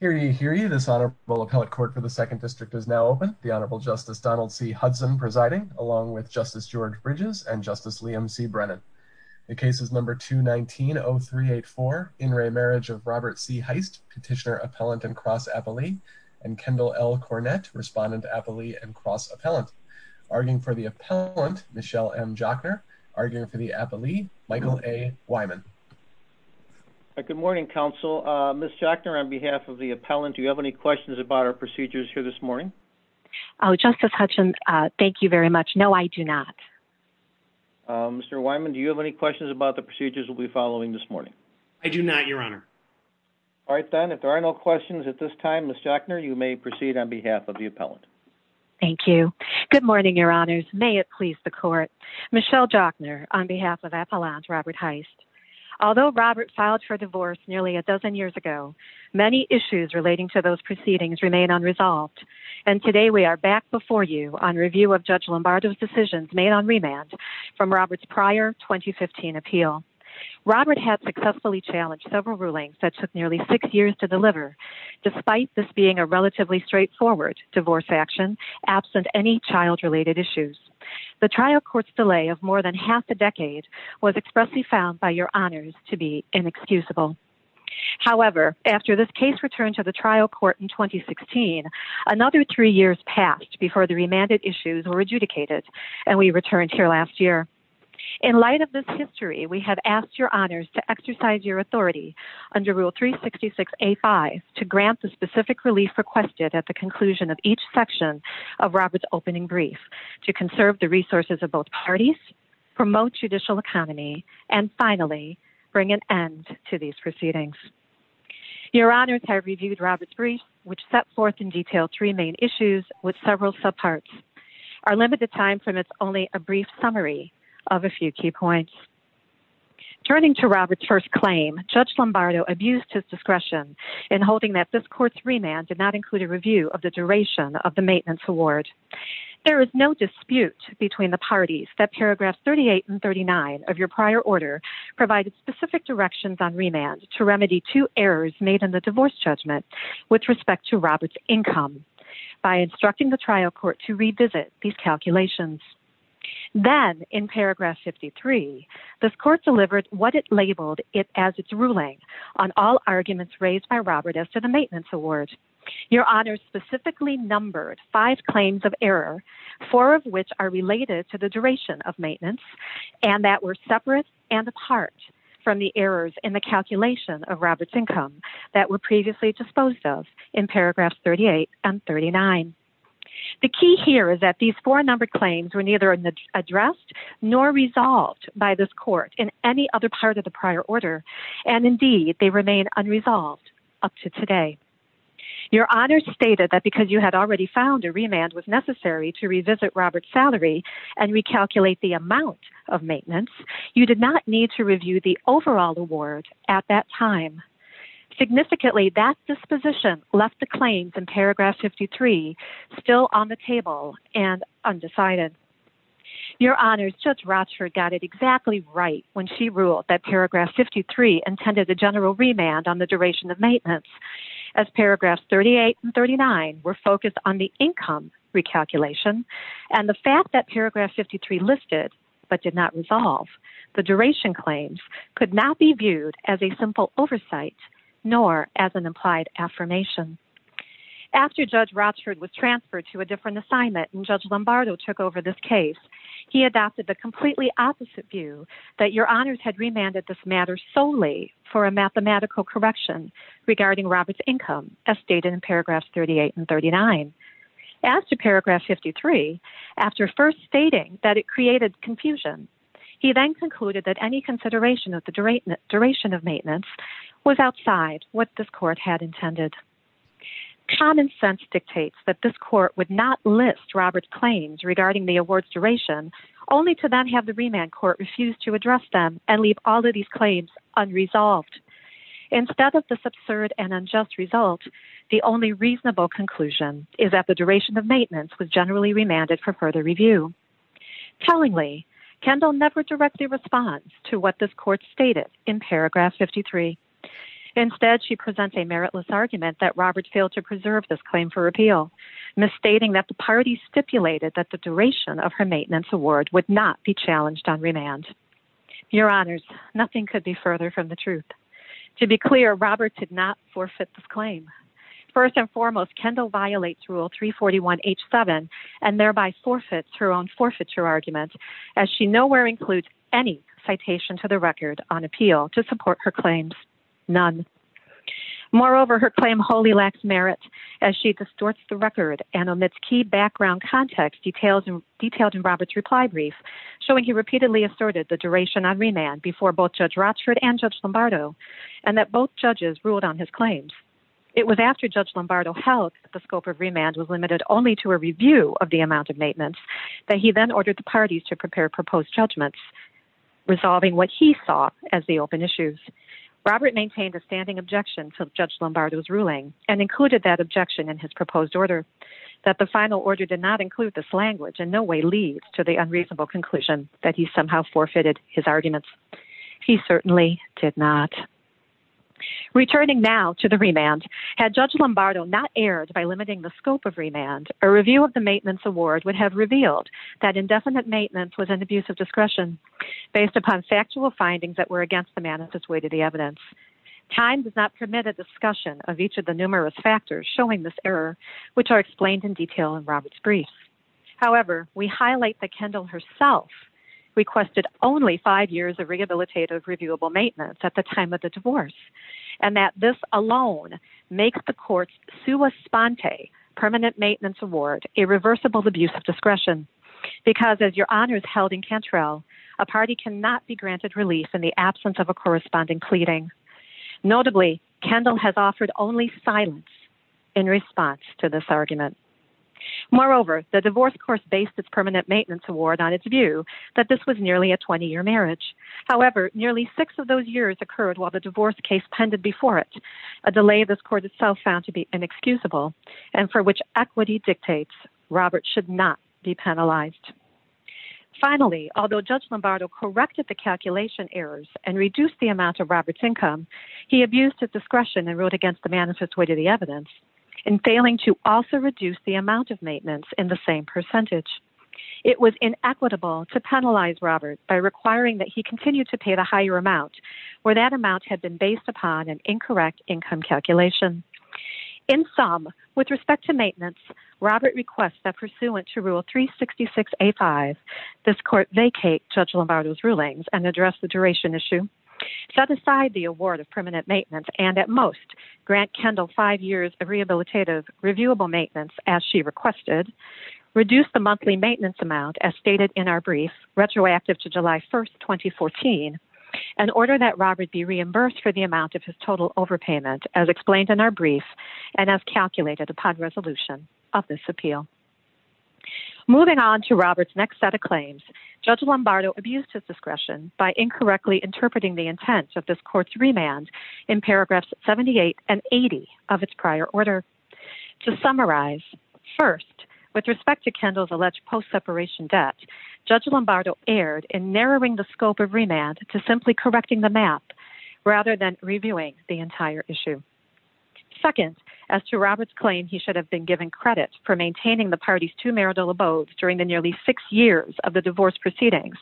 Hear ye, hear ye, this Honorable Appellate Court for the 2nd District is now open. The Honorable Justice Donald C. Hudson presiding, along with Justice George Bridges and Justice Liam C. Brennan. The case is number 219-0384, in re Marriage of Robert C. Heist, Petitioner, Appellant, and Cross-Appellee, and Kendall L. Cornett, Respondent, Appellee, and Cross-Appellant. Arguing for the Appellant, Michelle M. Jochner. Arguing for the Appellee, Michael A. Wyman. Good morning, Counsel. Ms. Jochner, on behalf of the Appellant, do you have any questions about our procedures here this morning? Oh, Justice Hudson, thank you very much. No, I do not. Mr. Wyman, do you have any questions about the procedures we'll be following this morning? I do not, Your Honor. All right, then. If there are no questions at this time, Ms. Jochner, you may proceed on behalf of the Appellant. Thank you. Good morning, Your Honors. May it please the Court. Michelle Jochner, on behalf of Appellant Robert Heist. Although Robert filed for divorce nearly a dozen years ago, many issues relating to those proceedings remain unresolved, and today we are back before you on review of Judge Lombardo's decisions made on remand from Robert's prior 2015 appeal. Robert had successfully challenged several rulings that took nearly six years to deliver, despite this being a relatively straightforward divorce action, absent any child-related issues. The trial court's delay of more than half a decade was expressly found by Your Honors to be inexcusable. However, after this case returned to the trial court in 2016, another three years passed before the remanded issues were adjudicated, and we returned here last year. In light of this history, we have asked Your Honors to exercise your authority under Rule 366A.5 to grant the specific relief requested at the conclusion of each section of Robert's opening brief to conserve the resources of both parties, promote judicial economy, and finally bring an end to these proceedings. Your Honors have reviewed Robert's brief, which set forth in detail three main issues with several subparts. Our limited time permits only a brief summary of a few key points. Turning to Robert's first claim, Judge Lombardo abused his discretion in holding that this court's remand did not include a review of the duration of the maintenance award. There is no dispute between the parties that Paragraphs 38 and 39 of your prior order provided specific directions on remand to remedy two errors made in the divorce judgment with respect to Robert's income by instructing the trial court to revisit these calculations. Then, in Paragraph 53, this court delivered what it labeled it as its ruling on all arguments raised by Robert as to the maintenance award. Your Honors specifically numbered five claims of error, four of which are related to the duration of maintenance, and that were separate and apart from the errors in the calculation of Robert's income that were previously disposed of in Paragraphs 38 and 39. The key here is that these four numbered claims were neither addressed nor resolved by this court in any other part of the prior order, and indeed, they remain unresolved up to today. Your Honors stated that because you had already found a remand was necessary to revisit Robert's salary and recalculate the amount of maintenance, you did not need to review the overall award at that time. Significantly, that disposition left the claims in Paragraph 53 still on the table and undecided. Your Honors, Judge Rochford got it exactly right when she ruled that Paragraph 53 intended a general remand on the duration of maintenance, as Paragraphs 38 and 39 were focused on the income recalculation and the fact that Paragraph 53 listed but did not resolve. The duration claims could not be viewed as a simple oversight nor as an implied affirmation. After Judge Rochford was transferred to a different assignment and Judge Lombardo took over this case, he adopted the completely opposite view that Your Honors had remanded this matter solely for a mathematical correction regarding Robert's income, as stated in Paragraphs 38 and 39. As to Paragraph 53, after first stating that it created confusion, he then concluded that any consideration of the duration of maintenance was outside what this court had intended. Common sense dictates that this court would not list Robert's claims regarding the award's duration, only to then have the remand court refuse to address them and leave all of these claims unresolved. Instead of this absurd and unjust result, the only reasonable conclusion is that the duration of maintenance was generally remanded for further review. Tellingly, Kendall never directly responds to what this court stated in Paragraph 53. Instead, she presents a meritless argument that Robert failed to preserve this claim for repeal, misstating that the party stipulated that the duration of her maintenance award would not be challenged on remand. Your Honors, nothing could be further from the truth. To be clear, Robert did not forfeit this claim. First and foremost, Kendall violates Rule 341 H7 and thereby forfeits her own forfeiture argument, as she nowhere includes any citation to the record on appeal to support her claims. None. Moreover, her claim wholly lacks merit as she distorts the record and omits key background context detailed in Robert's reply brief, showing he repeatedly asserted the duration on remand before both judge Rochford and judge Lombardo, and that both judges ruled on his claims. It was after judge Lombardo held the scope of remand was limited only to a review of the amount of maintenance that he then ordered the parties to prepare proposed judgments. Resolving what he saw as the open issues, Robert maintained a standing objection to judge Lombardo's ruling and included that objection in his proposed order that the final order did not include this language and no way leads to the unreasonable conclusion that he somehow forfeited his arguments. He certainly did not. Returning now to the remand, had judge Lombardo not erred by limiting the scope of remand, a review of the maintenance award would have revealed that indefinite maintenance was an abuse of discretion based upon factual findings that were against the manifest way to the evidence. Time does not permit a discussion of each of the numerous factors showing this error, which are explained in detail in Robert's brief. However, we highlight the Kendall herself requested only five years of rehabilitative reviewable maintenance at the time of the divorce. And that this alone makes the courts Sue was Sponte permanent maintenance award, irreversible abuse of discretion, because as your honors held in Cantrell, a party cannot be granted relief in the absence of a corresponding pleading. Notably, Kendall has offered only silence in response to this argument. Moreover, the divorce course based its permanent maintenance award on its view that this was nearly a 20 year marriage. However, nearly six of those years occurred while the divorce case pended before it a delay. This court itself found to be inexcusable and for which equity dictates, Robert should not be penalized. Finally, although judge Lombardo corrected the calculation errors and reduced the amount of Robert's income, he abused his discretion and wrote against the manifest way to the amount of maintenance in the same percentage. It was inequitable to penalize Robert by requiring that he continued to pay the higher amount where that amount had been based upon an incorrect income calculation in some with respect to maintenance. Robert requests that pursuant to rule three 66, a five, this court vacate judge Lombardo's rulings and address the duration issue set aside the award of permanent maintenance. And at most grant Kendall five years of rehabilitative reviewable maintenance, as she requested reduce the monthly maintenance amount as stated in our brief retroactive to July 1st, 2014, and order that Robert be reimbursed for the amount of his total overpayment as explained in our brief and as calculated upon resolution of this appeal. Moving on to Robert's next set of claims, judge Lombardo abused his discretion by incorrectly interpreting the intent of this court's remand in paragraphs 78 and 80 of its prior order. To summarize first with respect to Kendall's alleged post-separation debt, judge Lombardo erred in narrowing the scope of remand to simply correcting the map rather than reviewing the entire issue. Second, as to Robert's claim, he should have been given credit for maintaining the party's two marital abodes during the nearly six years of the divorce proceedings.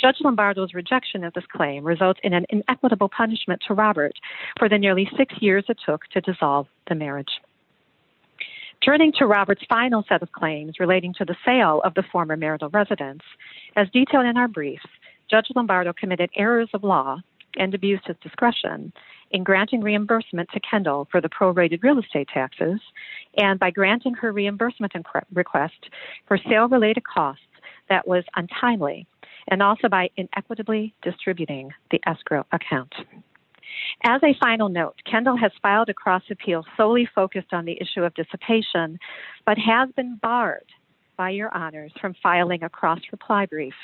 Judge Lombardo's rejection of this claim results in an inequitable punishment to Robert for the nearly six years it took to dissolve the marriage. Turning to Robert's final set of claims relating to the sale of the former marital residence as detailed in our brief, judge Lombardo committed errors of law and abused his discretion in granting reimbursement to Kendall for the pro-rated real estate taxes. And by granting her reimbursement request for sale related costs that was untimely and also by inequitably distributing the escrow account. As a final note, Kendall has filed a cross appeal solely focused on the issue of dissipation but has been barred by your honors from filing a cross reply brief.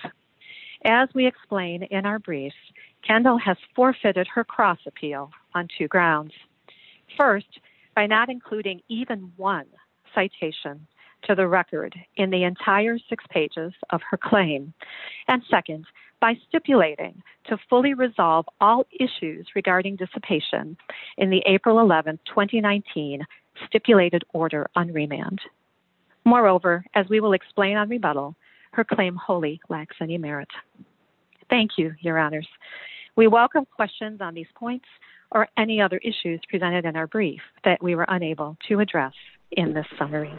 As we explain in our brief, Kendall has forfeited her cross appeal on two grounds. First, by not including even one citation to the record in the entire six pages of her claim. And second, by stipulating to fully resolve all issues regarding dissipation in the April 11th, 2019 stipulated order on remand. Moreover, as we will explain on rebuttal, her claim wholly lacks any merit. Thank you, your honors. We welcome questions on these points or any other issues presented in our brief that we were unable to address in this summary.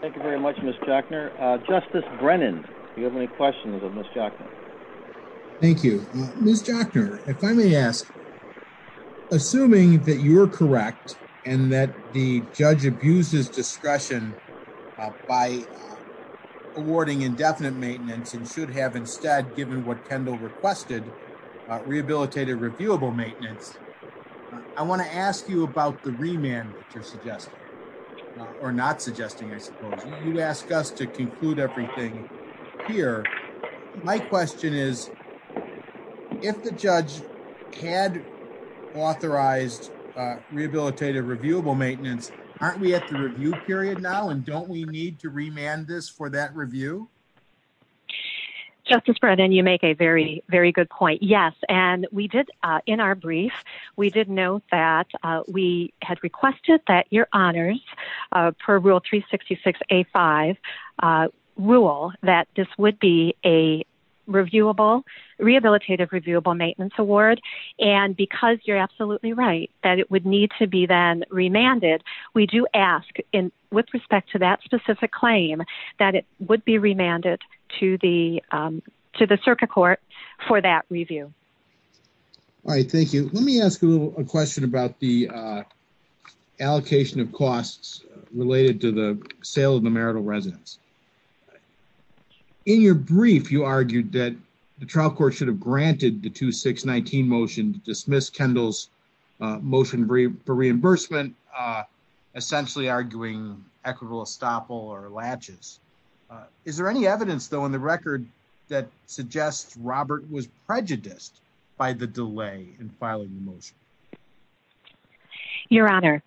Thank you very much, Ms. Jochner. Justice Brennan, do you have any questions of Ms. Jochner? Thank you. Ms. Jochner, if I may ask, assuming that you are correct and that the judge abuses discretion by awarding indefinite maintenance and should have instead given what Kendall requested, rehabilitative reviewable maintenance, I want to ask you about the remand that you're suggesting or not suggesting, I suppose. You ask us to conclude everything here. My question is, if the judge had authorized rehabilitative reviewable maintenance, aren't we at the review period now? And don't we need to remand this for that review? Justice Brennan, you make a very, very good point. Yes. And we did in our brief, we did note that we had requested that your honors per rule 366A5 rule that this would be a reviewable, rehabilitative reviewable maintenance award. And because you're absolutely right, that it would need to be then remanded. We do ask with respect to that specific claim that it would be remanded to the circuit court for that review. All right. Thank you. Let me ask you a question about the allocation of costs related to the sale of the marital residence. In your brief, you argued that the trial court should have granted the 2619 motion to dismiss Kendall's motion for reimbursement, essentially arguing equitable estoppel or latches. Is there any evidence though, in the record that suggests Robert was prejudiced by the delay in filing the motion? Your honor,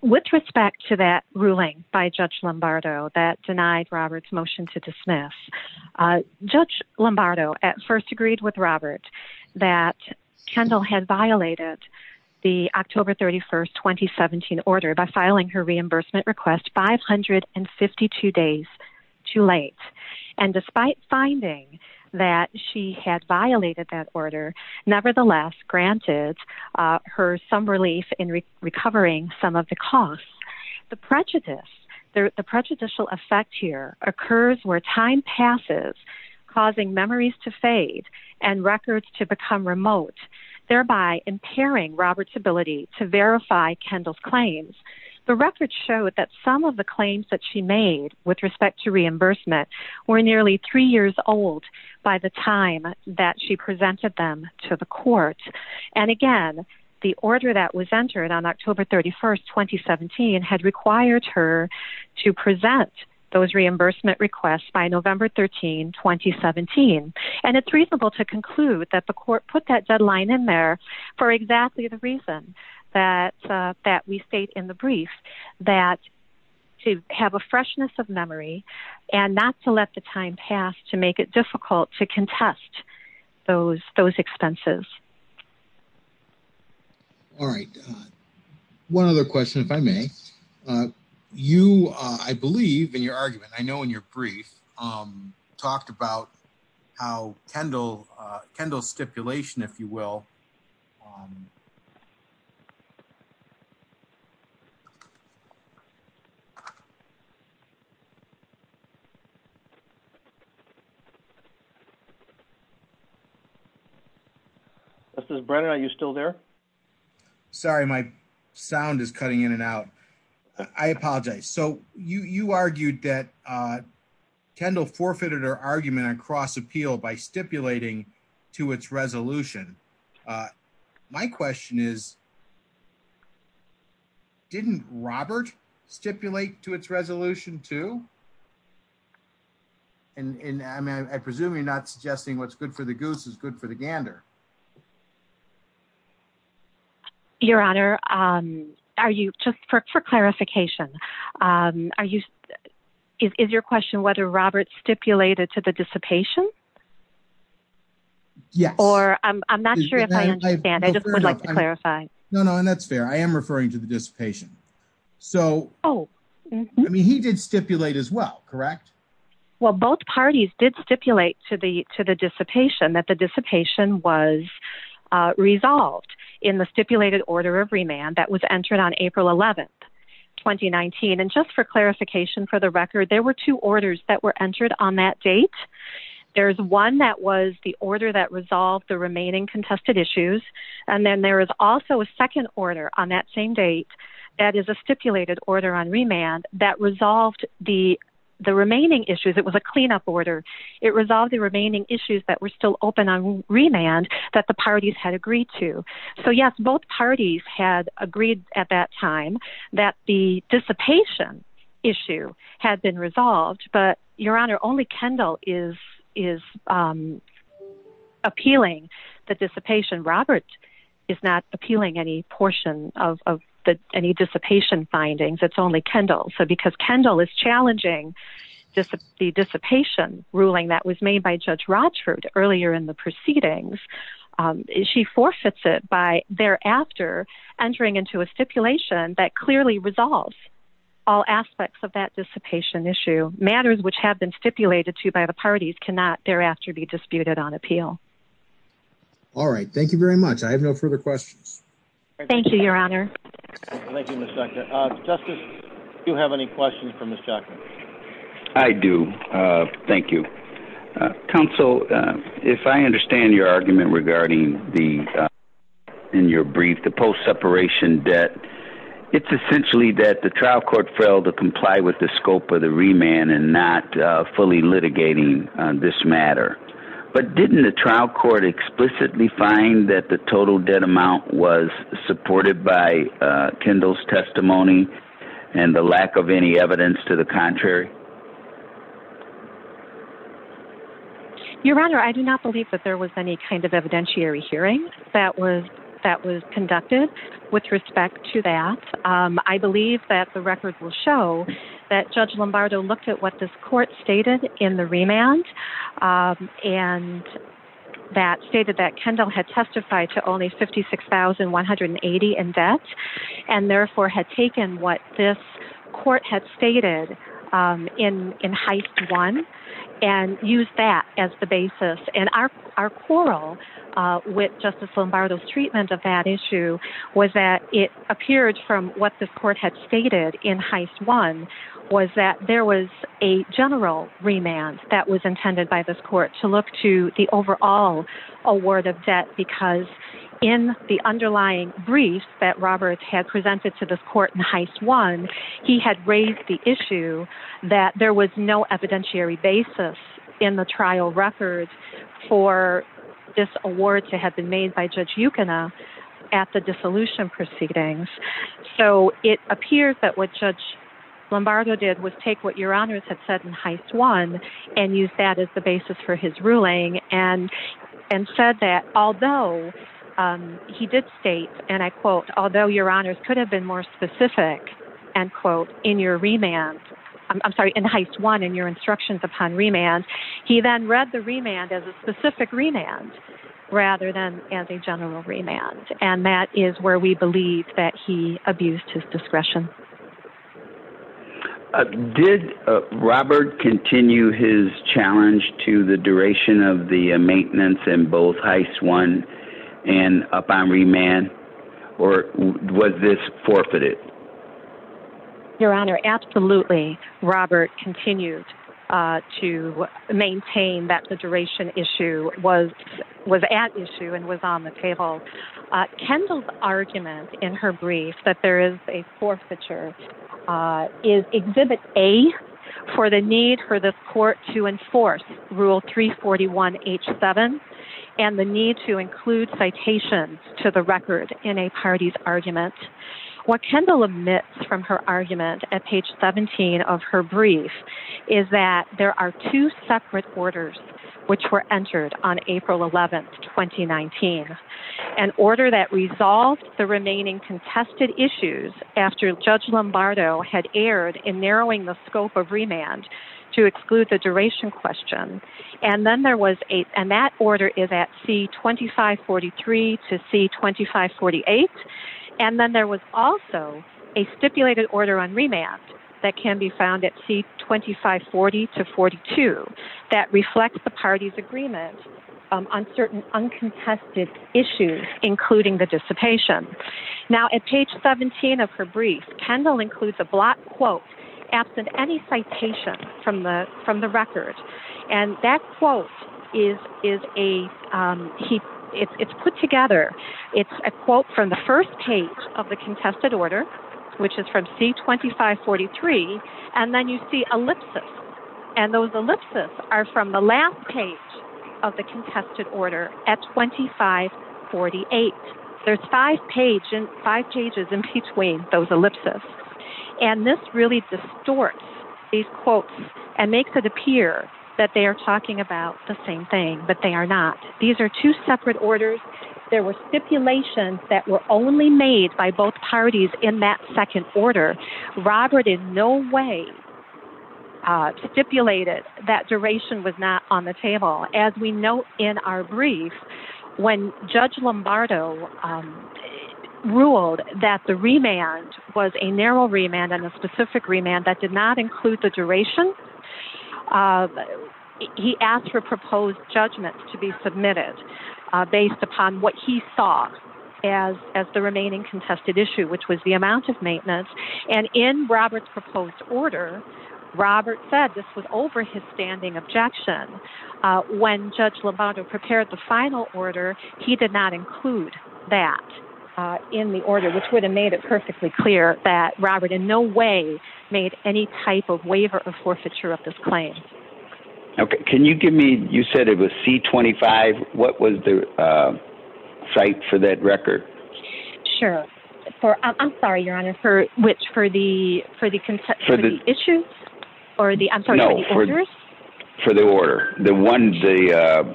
with respect to that ruling by judge Lombardo that denied Robert's motion to dismiss, uh, judge Lombardo at first agreed with Robert that Kendall had violated the October 31st, 2017 order by filing her reimbursement request 552 days too late. And despite finding that she had violated that order, nevertheless granted, uh, her some relief in recovering some of the costs, the prejudice, the prejudicial effect here occurs where time passes, causing memories to fade and records to become remote, thereby impairing Robert's ability to verify Kendall's claims. The record showed that some of the claims that she made with respect to reimbursement were nearly three years old by the time that she presented them to the court. And again, the order that was entered on October 31st, 2017 had required her to present those reimbursement requests by November 13, 2017. And it's reasonable to conclude that the court put that deadline in there for exactly the reason that, uh, that we stayed in the brief that to have a freshness of memory and not to let the time pass to make it difficult to contest those, those expenses. All right. One other question, if I may, uh, you, uh, I believe in your argument, I know in your brief, um, talked about how Kendall, uh, Kendall stipulation, if you will. This is Brandon. Are you still there? Sorry. My sound is cutting in and out. I apologize. So you, you argued that, uh, Kendall forfeited her argument on cross appeal by stipulating to its resolution. Uh, my question is, didn't Robert stipulate to its resolution too? And I mean, I presume you're not suggesting what's good for the goose is good for the gander. Your honor. Um, are you just for, for clarification, um, are you, is, is your question whether Robert stipulated to the dissipation or I'm not sure if I understand, I just would like to clarify. No, no. And that's fair. I am referring to the dissipation. So, oh, I mean, he did stipulate as well. Correct. Well, both parties did stipulate to the, to the dissipation that the dissipation was a resolved in the stipulated order of remand that was entered on April 11th, 2019. And just for clarification, for the record, there were two orders that were entered on that date. There's one that was the order that resolved the remaining contested issues. And then there is also a second order on that same date. That is a stipulated order on remand that resolved the, the remaining issues. It was a cleanup order. It resolved the remaining issues that were still open on remand that the parties had agreed to. So yes, both parties had agreed at that time that the dissipation issue had been resolved, but your honor, only Kendall is, is, um, appealing the dissipation. Robert is not appealing any portion of the, any dissipation findings. It's only Kendall. So because Kendall is challenging this, the dissipation ruling that was made by judge Rochford earlier in the proceedings, um, she forfeits it by thereafter entering into a stipulation that clearly resolves all aspects of that dissipation issue matters, which have been stipulated to by the parties cannot thereafter be disputed on appeal. All right. Thank you very much. I have no further questions. Thank you, your honor. Thank you. Justice, do you have any questions for Ms. Jackman? I do. Thank you. Counsel, if I understand your argument regarding the, in your brief, the post-separation debt, it's essentially that the trial court failed to comply with the scope of the remand and not fully litigating this matter, but didn't the trial court explicitly find that the total testimony and the lack of any evidence to the contrary. Your honor, I do not believe that there was any kind of evidentiary hearing that was, that was conducted with respect to that. Um, I believe that the record will show that judge Lombardo looked at what this court stated in the remand, um, and that stated that Kendall had testified to only 56,180 in debt and therefore had taken what this court had stated, um, in, in heist one and use that as the basis. And our, our quarrel, uh, with justice Lombardo's treatment of that issue was that it appeared from what this court had stated in heist one was that there was a general remand that was intended by this court to look to the overall award of debt, because in the underlying brief that Roberts had presented to this court in heist one, he had raised the issue that there was no evidentiary basis in the trial record for this award to have been made by judge Yukina at the dissolution proceedings. So it appears that what judge Lombardo did was take what your honors had said in heist one and use that as the basis for his ruling and, and said that, although, um, he did state and I quote, although your honors could have been more specific and quote in your remand, I'm sorry, in heist one, in your instructions upon remand, he then read the remand as a specific remand rather than as a general remand. And that is where we believe that he abused his discretion. Did Robert continue his challenge to the duration of the maintenance in both heist one and upon remand or was this forfeited? Your honor, absolutely. Robert continued to maintain that the duration issue was, was at issue and was on the table. Kendall's argument in her brief that there is a forfeiture, uh, is exhibit a for the need for this court to enforce rule three 41 H seven and the need to include citations to the record in a party's argument. What Kendall omits from her argument at page 17 of her brief is that there are two separate orders which were entered on April 11th, 2019, an order that resolved the remaining contested to exclude the duration question. And then there was a, and that order is at C 2543 to C 2548. And then there was also a stipulated order on remand that can be found at C 2540 to 42 that reflects the party's agreement on certain uncontested issues, including the dissipation. Now at page 17 of her brief, Kendall includes a block quote, absent any citation from the, from the record. And that quote is, is a, um, he it's, it's put together. It's a quote from the first page of the contested order, which is from C 2543. And then you see ellipsis. And those ellipsis are from the last page of the contested order at 2548. There's five pages, five pages in between those ellipsis. And this really distorts these quotes and makes it appear that they are talking about the same thing, but they are not. These are two separate orders. There were stipulations that were only made by both parties in that second order. Robert in no way stipulated that duration was not on the table. As we note in our brief, when judge Lombardo, um, ruled that the remand was a narrow remand and a specific remand that did not include the duration, uh, he asked for proposed judgment to be submitted, uh, based upon what he saw as, as the remaining contested issue, which was the amount of maintenance. And in Robert's proposed order, Robert said this was over his standing objection. Uh, when judge Lombardo prepared the final order, he did not include that, uh, in the order, which would have made it perfectly clear that Robert in no way made any type of waiver or forfeiture of this claim. Okay. Can you give me, you said it was C 25. What was the, uh, site for that record? Sure. For, I'm sorry, your honor for which, for the, for the concept for the issues or the, I'm sorry, for the order, the ones, the, uh,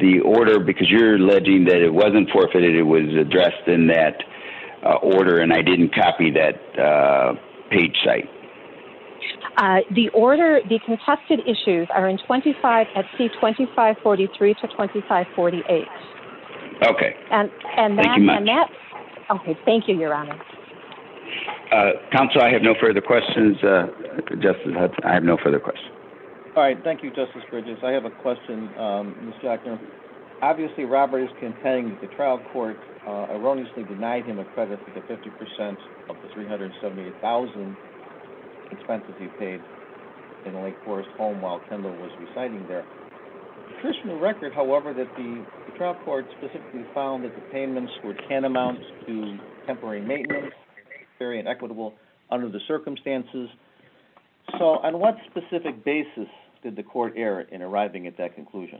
the order, because you're alleging that it wasn't forfeited. It was addressed in that order. And I didn't copy that, uh, page site. Uh, the order, the contested issues are in 25 at C 25 43 to 25 48. Okay. And, and that, and that, okay. Thank you, your honor. Uh, counsel, I have no further questions. Uh, I have no further questions. All right. Thank you, justice Bridges. I have a question. Um, obviously Robert is containing the trial court, uh, erroneously denied him a credit for the 50% of the 378,000 expenses he paid in Lake Forest home while Kendall was residing there. Traditional record, however, that the trial court specifically found that the payments were tantamount to temporary maintenance, very inequitable under the circumstances. So on what specific basis did the court error in arriving at that conclusion?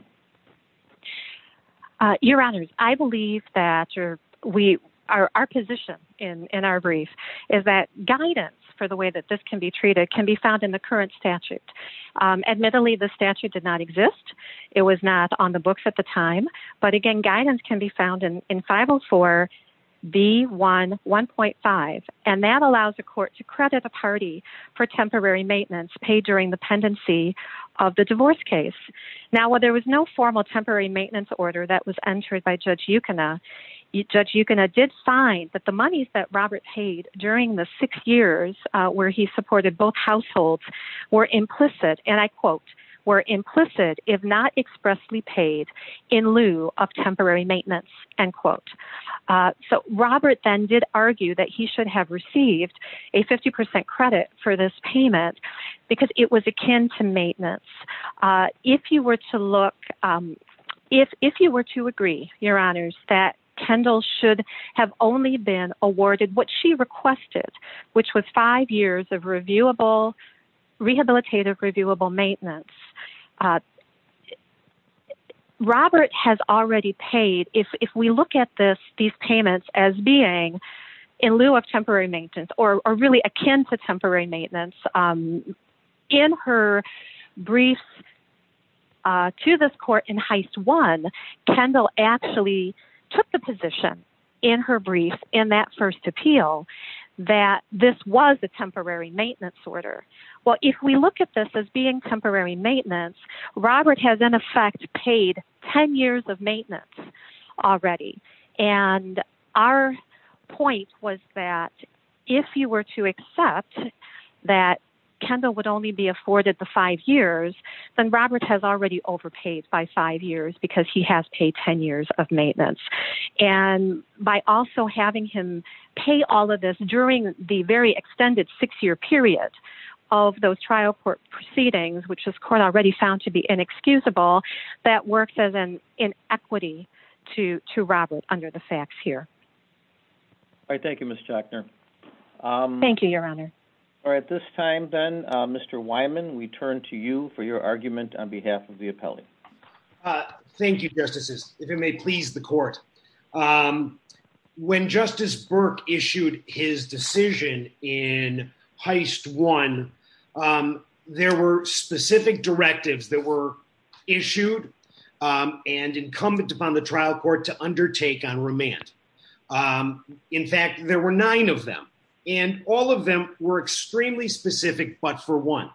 Uh, your honor, I believe that you're, we are, our position in, in our brief is that guidance for the way that this can be treated can be found in the current statute. Um, admittedly, the statute did not exist. It was not on the books at the time, but again, guidance can be found in, in five Oh four. B one 1.5. And that allows the court to credit a party for temporary maintenance paid during the pendency of the divorce case. Now, while there was no formal temporary maintenance order that was entered by judge Yukon, uh, judge, you can, I did find that the monies that Robert paid during the six years, uh, where he supported both households were implicit and I quote were implicit if not expressly paid in lieu of temporary maintenance. And quote, uh, so Robert then did argue that he should have received a 50% credit for this payment because it was akin to maintenance. Uh, if you were to look, um, if, if you were to agree your honors that Kendall should have only been awarded what she requested, which was five years of reviewable rehabilitative, reviewable maintenance, uh, Robert has already paid. If, if we look at this, these payments as being in lieu of temporary maintenance or really akin to temporary maintenance, um, in her briefs, uh, to this court in heist Kendall actually took the position in her brief in that first appeal that this was a temporary maintenance order. Well, if we look at this as being temporary maintenance, Robert has in effect paid 10 years of maintenance already. And our point was that if you were to accept that Kendall would only be afforded the five years, then Robert has already overpaid by five years because he has paid 10 years of maintenance. And by also having him pay all of this during the very extended six year period of those trial court proceedings, which has already found to be inexcusable, that works as an inequity to, to Robert under the facts here. All right. Thank you, Ms. Jackner. Um, thank you, your honor. All right. This time then, uh, Mr. Wyman, we turn to you for your argument on behalf of the appellate. Uh, thank you, justices. If it may please the court. Um, when justice Burke issued his decision in heist one, um, there were specific directives that were issued, um, and incumbent upon the trial court to undertake on remand. Um, in fact, there were nine of them and all of them were extremely specific, but for one,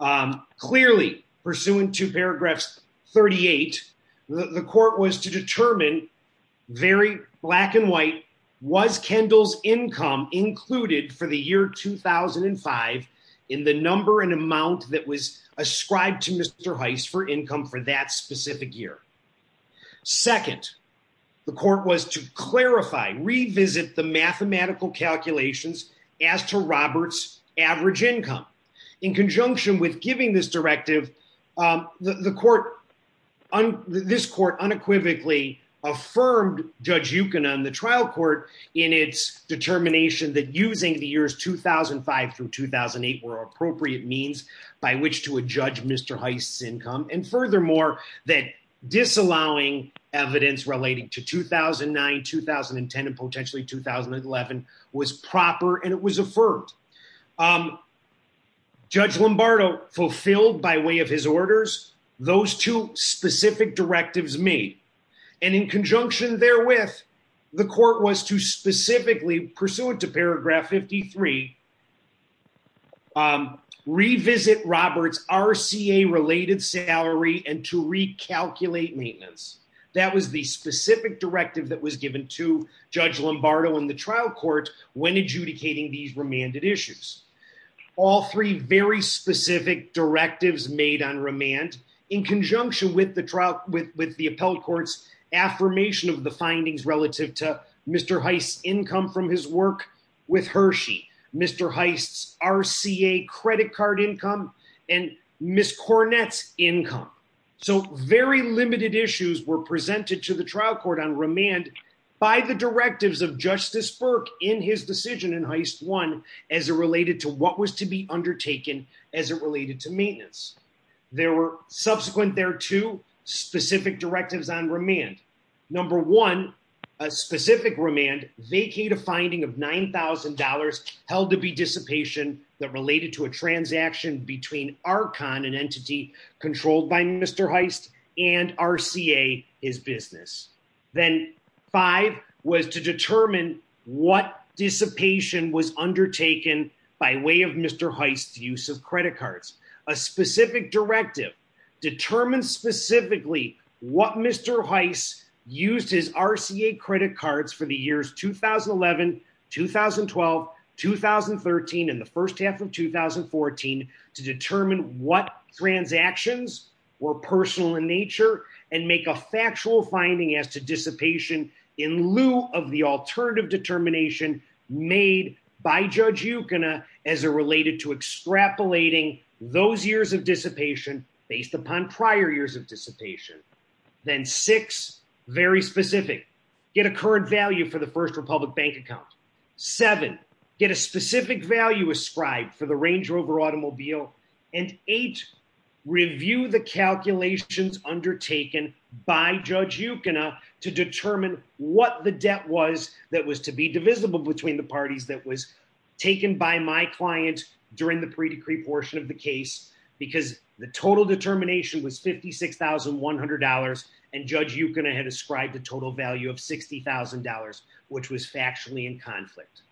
um, clearly pursuant to paragraphs 38, the court was to determine very black and white was Kendall's income included for the year 2005 in the number and amount that was ascribed to Mr. Heist for income for that specific year. Second, the court was to clarify, revisit the mathematical calculations as to Robert's average income in conjunction with giving this directive, um, the court on this court unequivocally affirmed judge Yukon on the trial court in its determination that using the years 2005 through 2008 were appropriate means by which to a judge, Mr. Heist's income. And furthermore, that disallowing evidence relating to 2009, 2010, and potentially 2011 was proper. And it was affirmed, um, judge Lombardo fulfilled by way of his orders, those two specific directives me. And in conjunction there with the court was to specifically pursuant to paragraph 53, um, revisit Robert's RCA related salary. And to recalculate maintenance, that was the specific directive that was given to judge Lombardo in the trial court. When adjudicating these remanded issues, all three very specific directives made on remand in conjunction with the trial, with, with the appellate courts affirmation of the findings relative to Mr. Heist's income from his work with Hershey, Mr. Heist's RCA credit card income, and Ms. Cornette's income. So very limited issues were presented to the trial court on remand by the directives of justice Burke in his decision in Heist one, as it related to what was to be undertaken as it related to maintenance. There were subsequent, there are two specific directives on remand. Number one, a specific remand vacate a finding of $9,000 held to be dissipation that related to a transaction between Archon and entity controlled by Mr. Heist and RCA his business. Then five was to determine what dissipation was undertaken by way of Mr. Heist's use of credit cards. A specific directive determined specifically what Mr. Heist used his RCA credit cards for the years, 2011, 2012, 2013. And the first half of 2014 to determine what transactions were personal in nature and make a factual finding as to dissipation in lieu of the alternative determination made by judge as a related to extrapolating those years of dissipation based upon prior years of dissipation. Then six, very specific, get a current value for the first Republic bank account. Seven, get a specific value ascribed for the Range Rover automobile and eight, review the calculations undertaken by judge to determine what the debt was that was to be divisible between the parties that was taken by my client during the pre-decree portion of the case, because the total determination was $56,100 and judge Yukon had ascribed a total value of $60,000, which was factually in conflict.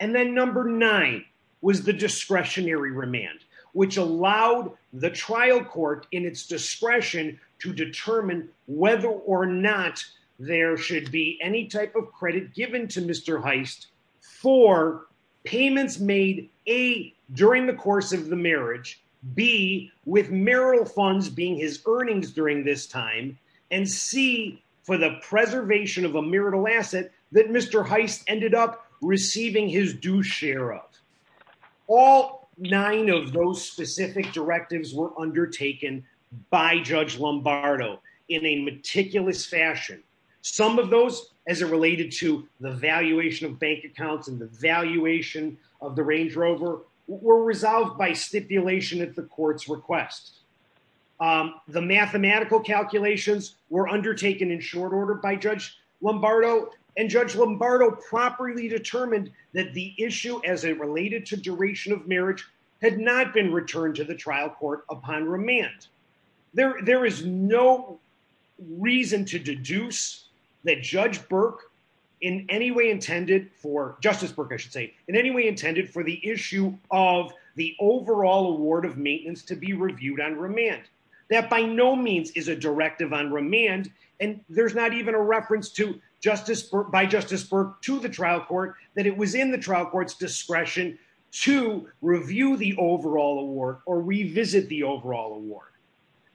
And then number nine was the discretionary remand, which allowed the trial court in its discretion to determine whether or not there should be any type of credit given to Mr. Heist for payments made, A, during the course of the marriage, B, with marital funds being his earnings during this time and C, for the preservation of a marital asset that Mr. Heist ended up receiving his due share of. All nine of those specific directives were undertaken by judge Lombardo in a meticulous fashion. Some of those as it related to the valuation of bank accounts and the valuation of the Range Rover were resolved by stipulation at the court's request. The mathematical calculations were undertaken in short order by judge Lombardo and judge Lombardo properly determined that the issue as it related to duration of marriage had not been returned to the trial court upon remand. There is no reason to deduce that judge Burke in any way intended for, justice Burke I should say, in any way intended for the issue of the overall award of maintenance to be reviewed on remand. That by no means is a directive on remand and there's not even a reference to justice by justice Burke to the trial court that it was in the trial court's discretion to review the overall award or revisit the overall award.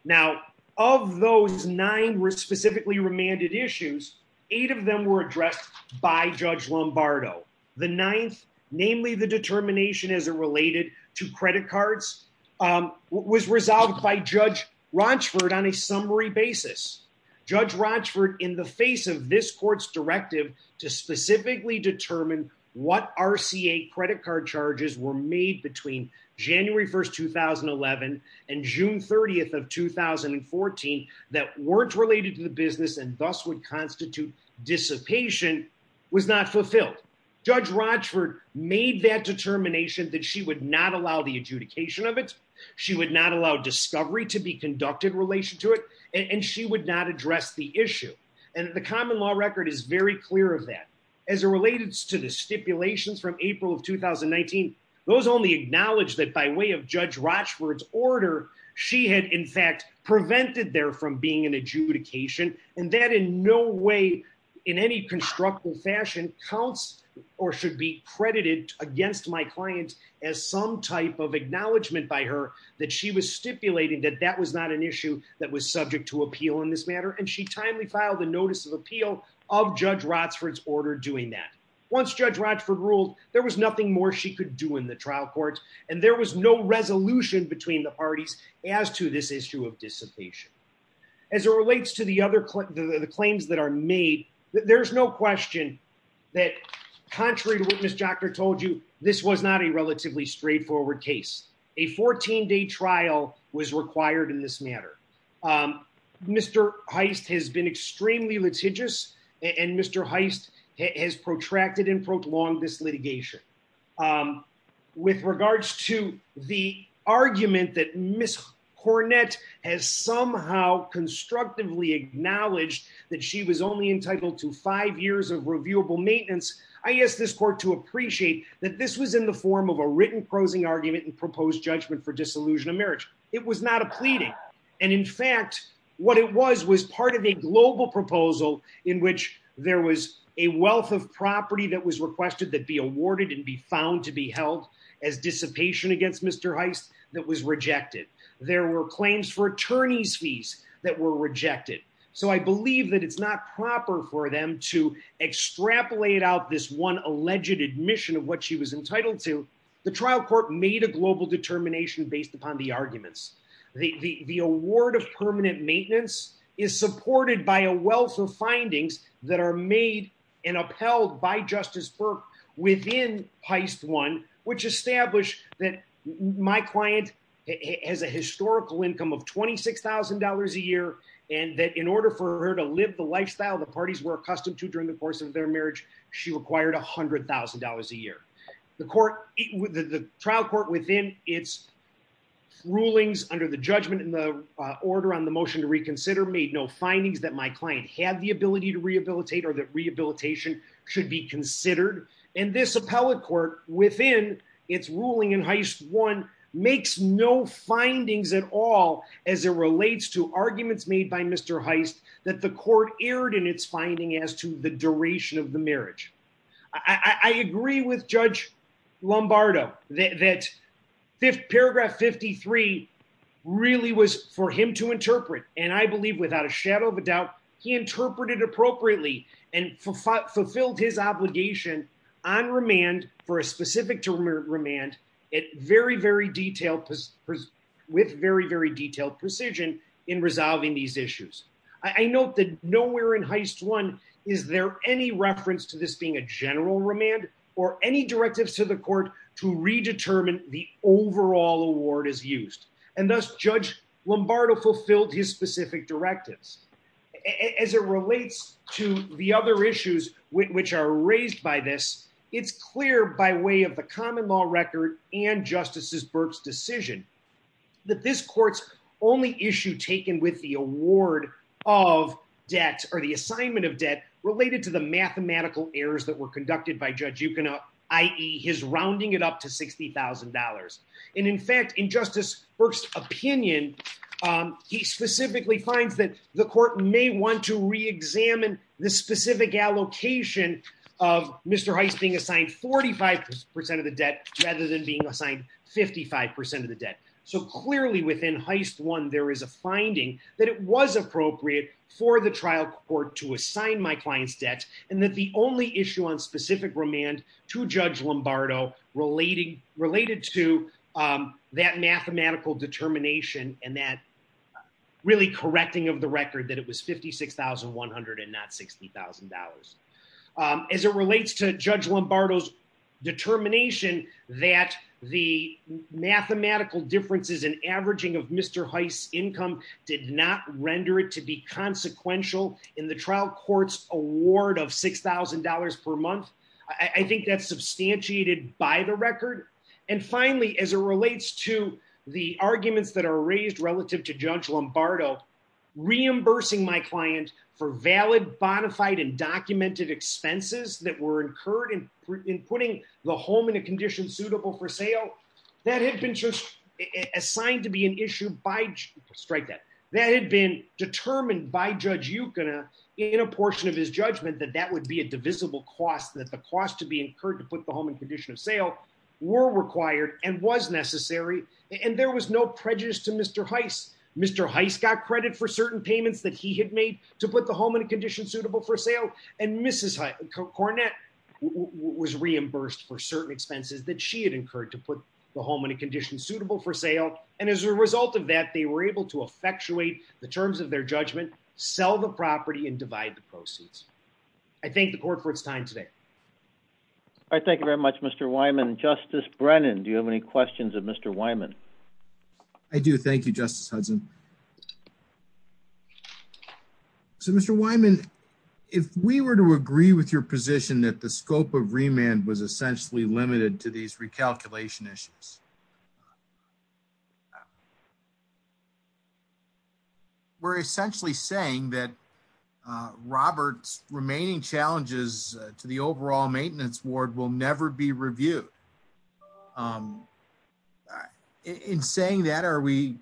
Now of those nine were specifically remanded issues, eight of them were addressed by judge Lombardo. The ninth, namely the determination as it related to credit cards, was resolved by judge Rochford on a summary basis. Judge Rochford in the face of this court's directive to specifically determine what RCA credit card charges were made between January 1st, 2011 and June 30th of 2014 that weren't related to the business and thus would constitute dissipation was not fulfilled. Judge Rochford made that determination that she would not allow the adjudication of it. She would not allow discovery to be conducted in relation to it and she would not address the issue and the common law record is very clear of that. As it related to the stipulations from April of 2019, those only acknowledge that by way of judge Rochford's order, she had in fact prevented there from being an adjudication and that in no way in any constructive fashion counts or should be credited against my client as some type of acknowledgement by her that she was stipulating that that was not an issue that was subject to appeal in this matter and she timely filed a notice of appeal of Rochford's order doing that. Once judge Rochford ruled, there was nothing more she could do in the trial court and there was no resolution between the parties as to this issue of dissipation. As it relates to the other the claims that are made, there's no question that contrary to what Ms. Jocker told you, this was not a relatively straightforward case. A 14-day trial was required in this matter. Mr. Heist has been extremely litigious and Mr. Heist has protracted and prolonged this litigation. With regards to the argument that Ms. Cornett has somehow constructively acknowledged that she was only entitled to five years of reviewable maintenance, I ask this court to appreciate that this was in the form of a written prosing argument and proposed judgment for disillusion of marriage. It was not a pleading and in fact, what it was was part of a global proposal in which there was a wealth of property that was requested that be awarded and be found to be held as dissipation against Mr. Heist that was rejected. There were claims for attorney's fees that were rejected. So I believe that it's not proper for them to extrapolate out this one alleged admission of what she was entitled to. The trial court made a global determination based upon the arguments. The award of permanent maintenance is supported by a wealth of findings that are made and upheld by Justice Burke within Heist I, which established that my client has a historical income of $26,000 a year and that in order for her to live the lifestyle the parties were accustomed to during the course of their marriage, she required $100,000 a year. The trial court within its rulings under the judgment and the order on the motion to reconsider made no findings that my client had the ability to rehabilitate or that rehabilitation should be considered. And this appellate court within its ruling in Heist I makes no findings at all as it relates to arguments made by Mr. Heist that the court erred in its finding as to the duration of the marriage. I agree with Judge Lombardo that paragraph 53 really was for him to interpret. And I believe without a shadow of a doubt, he interpreted appropriately and fulfilled his obligation on remand for a specific term of remand with very, very detailed precision in resolving these issues. I note that nowhere in Heist I is there any reference to this being a general remand or any directives to the court to redetermine the overall award as used. And thus, Judge Lombardo fulfilled his specific directives. As it relates to the other issues which are raised by this, it's clear by way of the common law record and Justice Burke's decision that this court's only issue taken with the award of debt or the assignment of debt related to the mathematical errors that were conducted by Judge Yukon, i.e., his rounding it up to $60,000. And in fact, in Justice Burke's opinion, he specifically finds that the court may want to reexamine the specific allocation of Mr. Heist being assigned 45% of the debt rather than being assigned 55% of the debt. So clearly within Heist I, there is a finding that it was appropriate for the trial court to assign my client's debt and that the only issue on specific remand to Judge Lombardo related to that mathematical determination and that really correcting of the record that it was $56,100 and not $60,000. As it relates to Judge Lombardo's determination that the mathematical differences in averaging of Mr. Heist's income did not render it to be consequential in the trial court's award of $6,000 per month, I think that's substantiated by the record. And finally, as it relates to the arguments that are raised relative to Judge Lombardo, reimbursing my client for valid, bonafide, and documented expenses that were incurred in putting the home in a condition suitable for sale, that had been assigned to be an issue by, strike that, that had been determined by Judge Yukuna in a portion of his judgment that that would be a divisible cost, that the cost to be incurred to put the home in condition of sale were required and was necessary. And there was no prejudice to Mr. Heist. Mr. Heist got credit for certain payments that he had made to put the home in a condition suitable for sale, and Mrs. Cornett was reimbursed for certain expenses that she had incurred to put the home in a condition suitable for sale. And as a result of that, they were able to effectuate the terms of their judgment, sell the property, and divide the proceeds. I thank the court for its time today. All right. Thank you very much, Mr. Wyman. Justice Brennan, do you have any questions of Mr. Wyman? I do. Thank you, Justice Hudson. So, Mr. Wyman, if we were to agree with your position that the scope of remand was essentially limited to these recalculation issues, we're essentially saying that Robert's remaining challenges to the overall maintenance ward will never be reviewed. In saying that, are we—is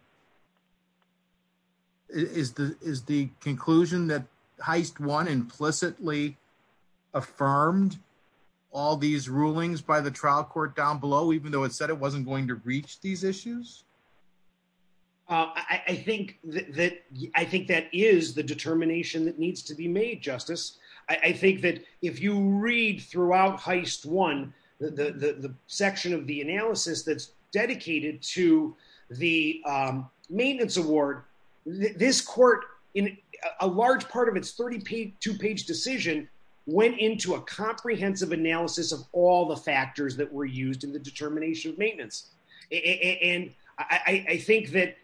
the conclusion that Heist I implicitly affirmed all these rulings by the trial court down below, even though it said it wasn't going to reach these issues? I think that is the determination that needs to be made, Justice. I think that if you read throughout Heist I, the section of the analysis that's dedicated to the maintenance award, this court, in a large part of its 32-page decision, went into a comprehensive analysis of all the factors that were used in the determination of maintenance. And I think that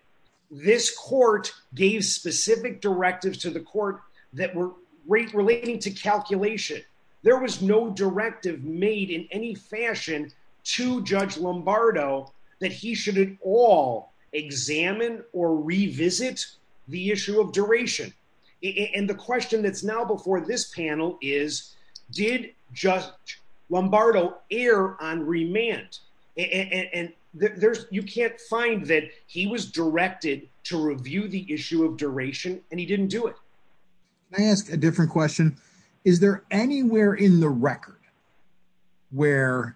this court gave specific directives to the court that were relating to calculation. There was no directive made in any fashion to Judge Lombardo that he should at all examine or revisit the issue of duration. And the question that's now before this panel is, did Judge Lombardo err on remand? And you can't find that he was directed to review the issue of duration, and he didn't do it. Can I ask a different question? Is there anywhere in the record where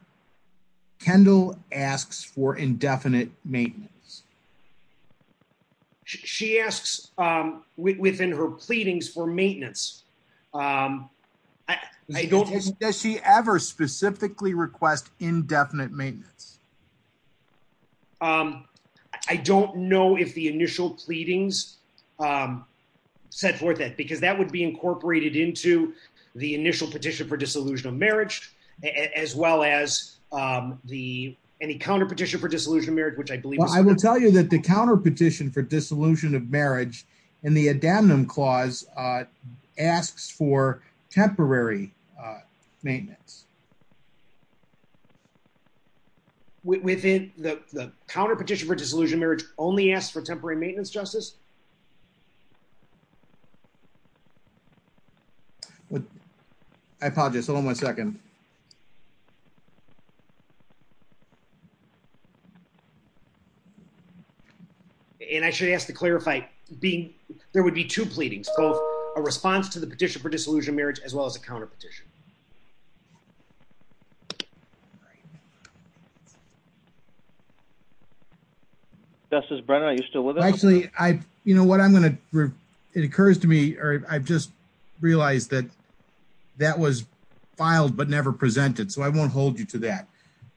Kendall asks for indefinite maintenance? She asks within her pleadings for maintenance. Does she ever specifically request indefinite maintenance? I don't know if the initial pleadings set forth that, because that would be incorporated into the initial petition for disillusion of marriage, as well as the counterpetition for disillusion of marriage, which I believe is... Well, I will tell you that the counterpetition for disillusion of marriage in the Adamnum Clause asks for temporary maintenance. Within the counterpetition for disillusion of marriage only asks for temporary maintenance, Justice? I apologize. Hold on one second. And I should ask to clarify, there would be two pleadings, both a response to the petition for disillusion of marriage, as well as a counterpetition. Justice Brennan, are you still with us? Actually, what I'm going to... It occurs to me, or I've just realized that that was filed, but never presented. So I won't hold you to that.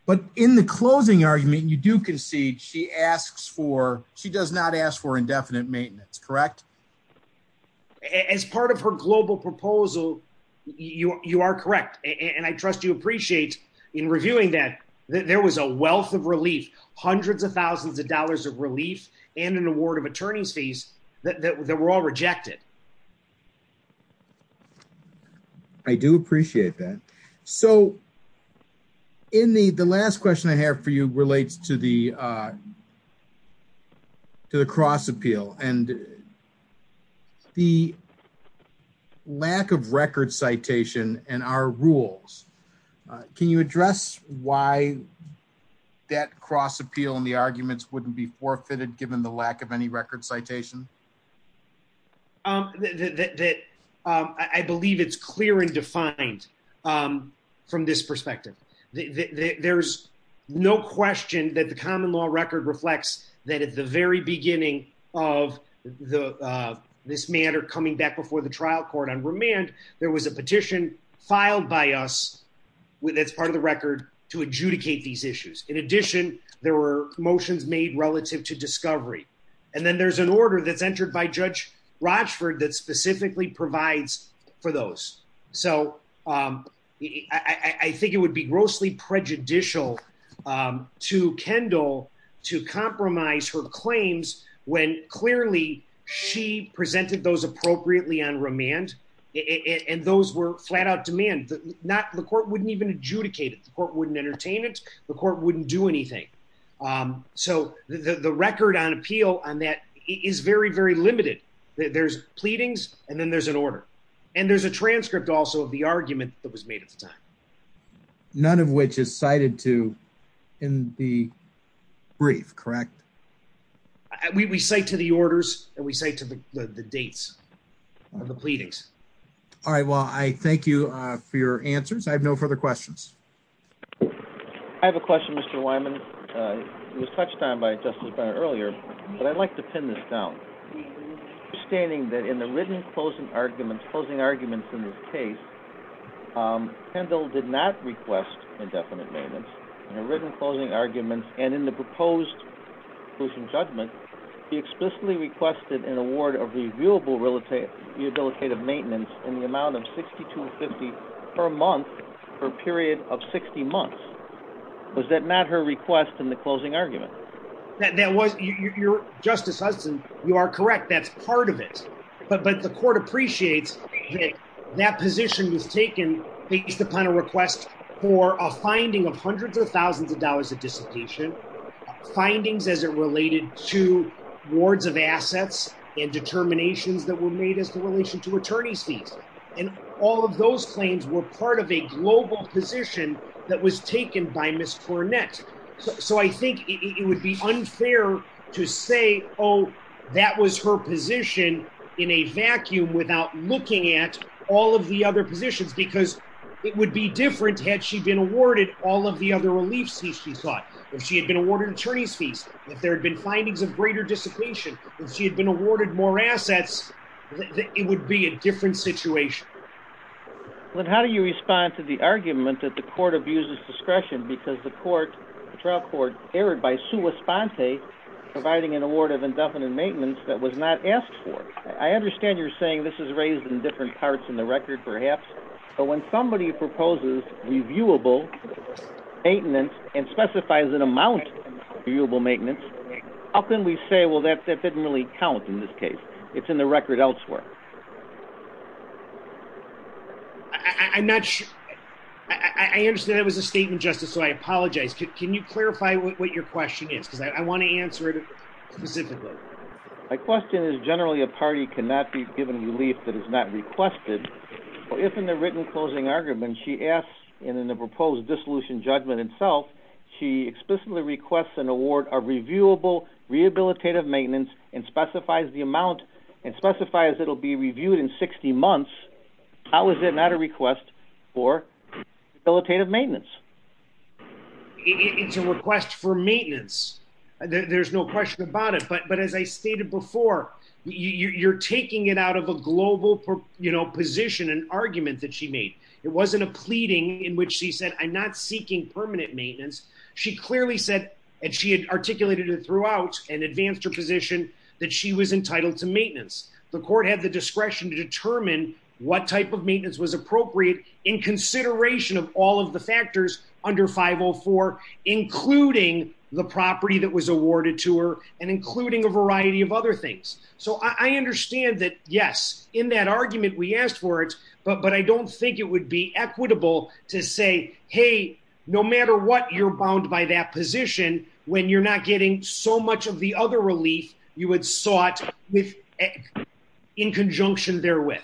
But in the closing argument, you do concede she does not ask for indefinite maintenance, correct? As part of her global proposal, you are correct. And I trust you appreciate in reviewing that there was a wealth of relief, hundreds of thousands of dollars that was rejected. I do appreciate that. So in the last question I have for you relates to the cross appeal and the lack of record citation and our rules. Can you address why that cross appeal and the arguments wouldn't be forfeited given the lack of any record citation? That I believe it's clear and defined from this perspective. There's no question that the common law record reflects that at the very beginning of this matter coming back before the trial court on remand, there was a petition filed by us as part of the record to adjudicate these issues. In addition, there were motions made relative to discovery. And then there's an order that's entered by Judge Rochford that specifically provides for those. So I think it would be grossly prejudicial to Kendall to compromise her claims when clearly she presented those appropriately on remand and those were flat out demand. The court wouldn't even adjudicate it. The court wouldn't entertain it. The court wouldn't do anything. Um, so the record on appeal on that is very, very limited. There's pleadings and then there's an order and there's a transcript also of the argument that was made at the time. None of which is cited to in the brief, correct? We cite to the orders and we say to the dates of the pleadings. All right. Well, I thank you for your answers. I have no further questions. I have a question, Mr. Wyman. It was touched on by Justice Brenner earlier, but I'd like to pin this down. Understanding that in the written closing arguments, closing arguments in this case, Kendall did not request indefinite maintenance. In her written closing arguments and in the proposed conclusion judgment, he explicitly requested an award of reviewable rehabilitative maintenance in the amount of $62.50 per month for a period of 60 months. Was that not her request in the closing argument? That was your Justice Hudson. You are correct. That's part of it. But the court appreciates that position was taken based upon a request for a finding of hundreds of thousands of dollars of dissipation findings as it related to wards of assets and determinations that were made as the relation to attorney's fees. And all of those claims were part of a global position that was taken by Ms. Cornett. So I think it would be unfair to say, oh, that was her position in a vacuum without looking at all of the other positions, because it would be different had she been awarded all of the other relief fees, she thought. If she had been awarded attorney's fees, if there had been findings of greater dissipation, if she had been awarded more assets, it would be a different situation. But how do you respond to the argument that the court abuses discretion because the trial court erred by sua sponte, providing an award of indefinite maintenance that was not asked for? I understand you're saying this is raised in different parts in the record, perhaps. But when somebody proposes reviewable maintenance and specifies an amount of reviewable maintenance, it doesn't really count in this case. It's in the record elsewhere. I understand that was a statement, Justice, so I apologize. Can you clarify what your question is? Because I want to answer it specifically. My question is generally a party cannot be given relief that is not requested. If in the written closing argument she asks, and in the proposed dissolution judgment itself, she explicitly requests an award of reviewable rehabilitative maintenance and specifies the amount and specifies it will be reviewed in 60 months, how is it not a request for rehabilitative maintenance? It's a request for maintenance. There's no question about it. But as I stated before, you're taking it out of a global position, an argument that she made. It wasn't a pleading in which she said, I'm not seeking permanent maintenance. She clearly said and she had articulated it throughout and advanced her position that she was entitled to maintenance. The court had the discretion to determine what type of maintenance was appropriate in consideration of all of the factors under 504, including the property that was awarded to her and including a variety of other things. So I understand that, yes, in that argument we asked for it, but I don't think it would be equitable to say, hey, no matter what, you're bound by that position when you're not getting so much of the other relief you had sought with in conjunction therewith.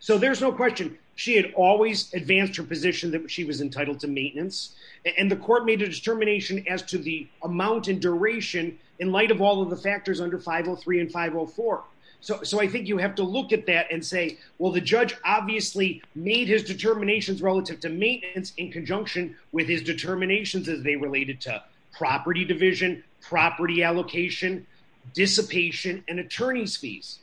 So there's no question she had always advanced her position that she was entitled to maintenance. And the court made a determination as to the amount and duration in light of all of the 504. So I think you have to look at that and say, well, the judge obviously made his determinations relative to maintenance in conjunction with his determinations as they related to property division, property allocation, dissipation, and attorney's fees.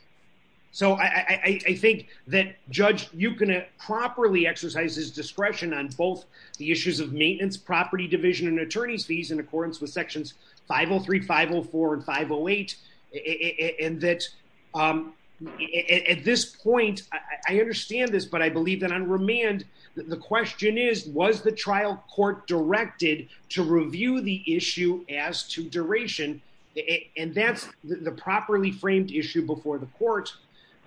So I think that, Judge, you can properly exercise his discretion on both the issues of maintenance, property division, and attorney's fees in accordance with sections 503, 504, and 508, and that at this point, I understand this, but I believe that on remand, the question is, was the trial court directed to review the issue as to duration? And that's the properly framed issue before the court.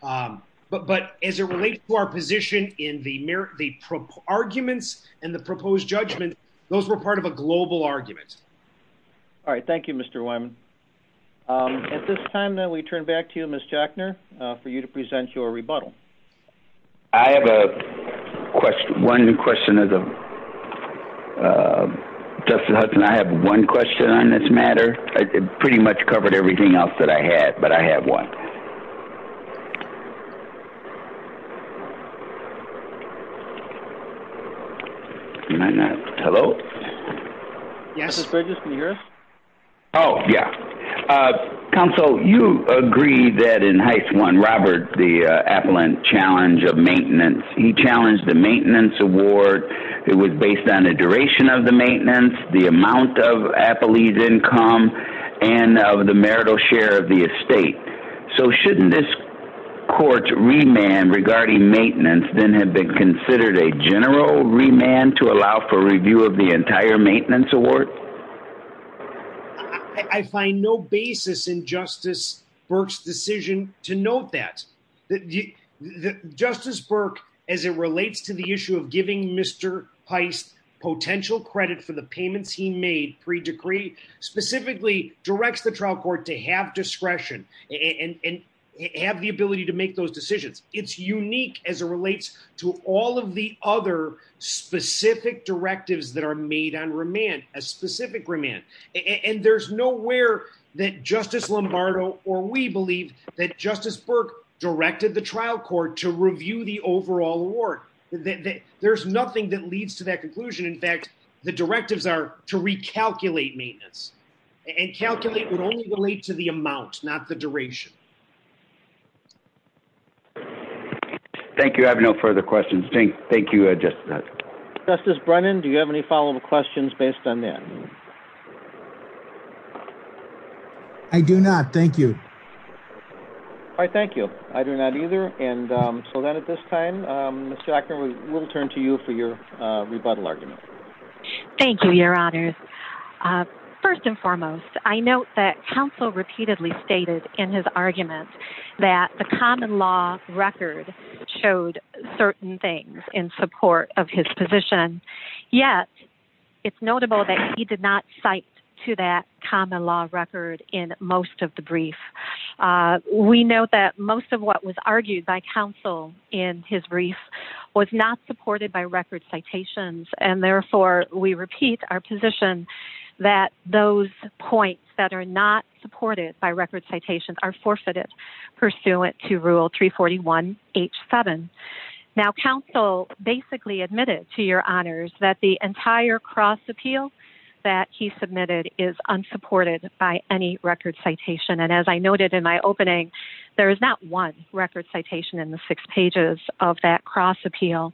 But as it relates to our position in the arguments and the proposed judgment, those were part of a global argument. All right. Thank you, Mr. Wyman. At this time, we turn back to you, Ms. Jackner, for you to present your rebuttal. I have a question. One question. Justice Hudson, I have one question on this matter. It pretty much covered everything else that I had, but I have one. Hello? Yes. Justice Bridges, can you hear us? Oh, yeah. Counsel, you agree that in Heist I, Robert, the appellant challenge of maintenance, he challenged the maintenance award. It was based on the duration of the maintenance, the amount of appellee's income, and of the marital share of the estate. So shouldn't this court's remand regarding maintenance then have been considered a general remand to allow for review of the entire maintenance award? I find no basis in Justice Burke's decision to note that. Justice Burke, as it relates to the issue of giving Mr. Heist potential credit for the payments he made pre-decree, specifically directs the trial court to have discretion and have the ability to make those decisions. It's unique as it relates to all of the other specific directives that are made on remand, a specific remand. There's nowhere that Justice Lombardo or we believe that Justice Burke directed the trial court to review the overall award. There's nothing that leads to that conclusion. In fact, the directives are to recalculate maintenance. Thank you. I have no further questions. Thank you, Justice. Justice Brennan, do you have any follow-up questions based on that? I do not. Thank you. All right. Thank you. I do not either. And so then at this time, Mr. Ackerman, we'll turn to you for your rebuttal argument. Thank you, Your Honors. First and foremost, I note that counsel repeatedly stated in his argument that the common law record showed certain things in support of his position. Yet it's notable that he did not cite to that common law record in most of the brief. We know that most of what was argued by counsel in his brief was not supported by record citations. And therefore we repeat our position that those points that are not supported by record citations are forfeited pursuant to rule three 41 H seven. Now counsel basically admitted to your honors that the entire cross appeal that he submitted is unsupported by any record citation. And as I noted in my opening, there is not one record citation in the six pages of that cross appeal.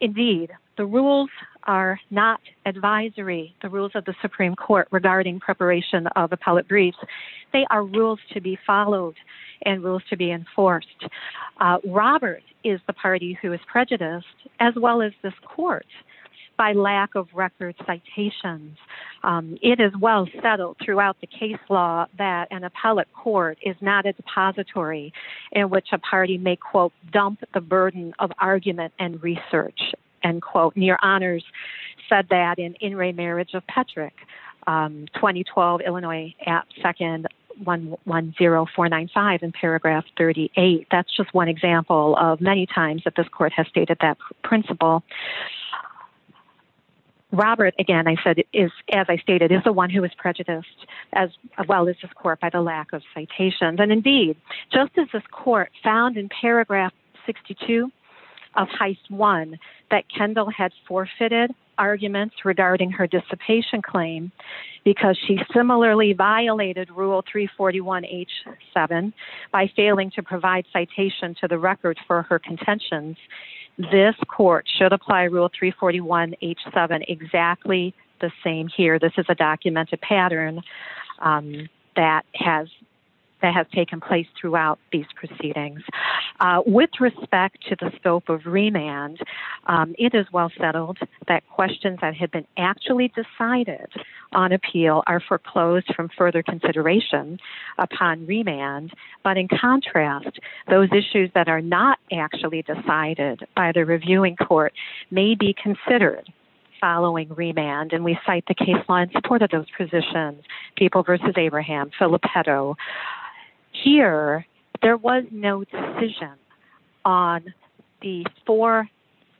Indeed, the rules are not advisory. The rules of the Supreme court regarding preparation of appellate briefs. They are rules to be followed and rules to be enforced. Robert is the party who is prejudiced as well as this court by lack of record citations. It is well settled throughout the case law that an appellate court is not a depository in which a party may quote dump the burden of argument and research and quote near honors said that in in Ray marriage of Patrick, um, 2012, Illinois app. Second one one zero four nine five in paragraph 38. That's just one example of many times that this court has stated that principle. Robert, again, I said, is, as I stated, is the one who was prejudiced as well as this court by the lack of citations. Just as this court found in paragraph 62 of heist one that Kendall had forfeited arguments regarding her dissipation claim because she similarly violated rule three 41 H seven by failing to provide citation to the record for her contentions. This court should apply rule three 41 H seven. Exactly the same here. This is a documented pattern, um, that has. That has taken place throughout these proceedings, uh, with respect to the scope of remand. Um, it is well settled that questions that had been actually decided on appeal are foreclosed from further consideration upon remand. But in contrast, those issues that are not actually decided by the reviewing court may be considered following remand. And we cite the case law in support of those positions. People versus Abraham Filippetto here, there was no decision on the four,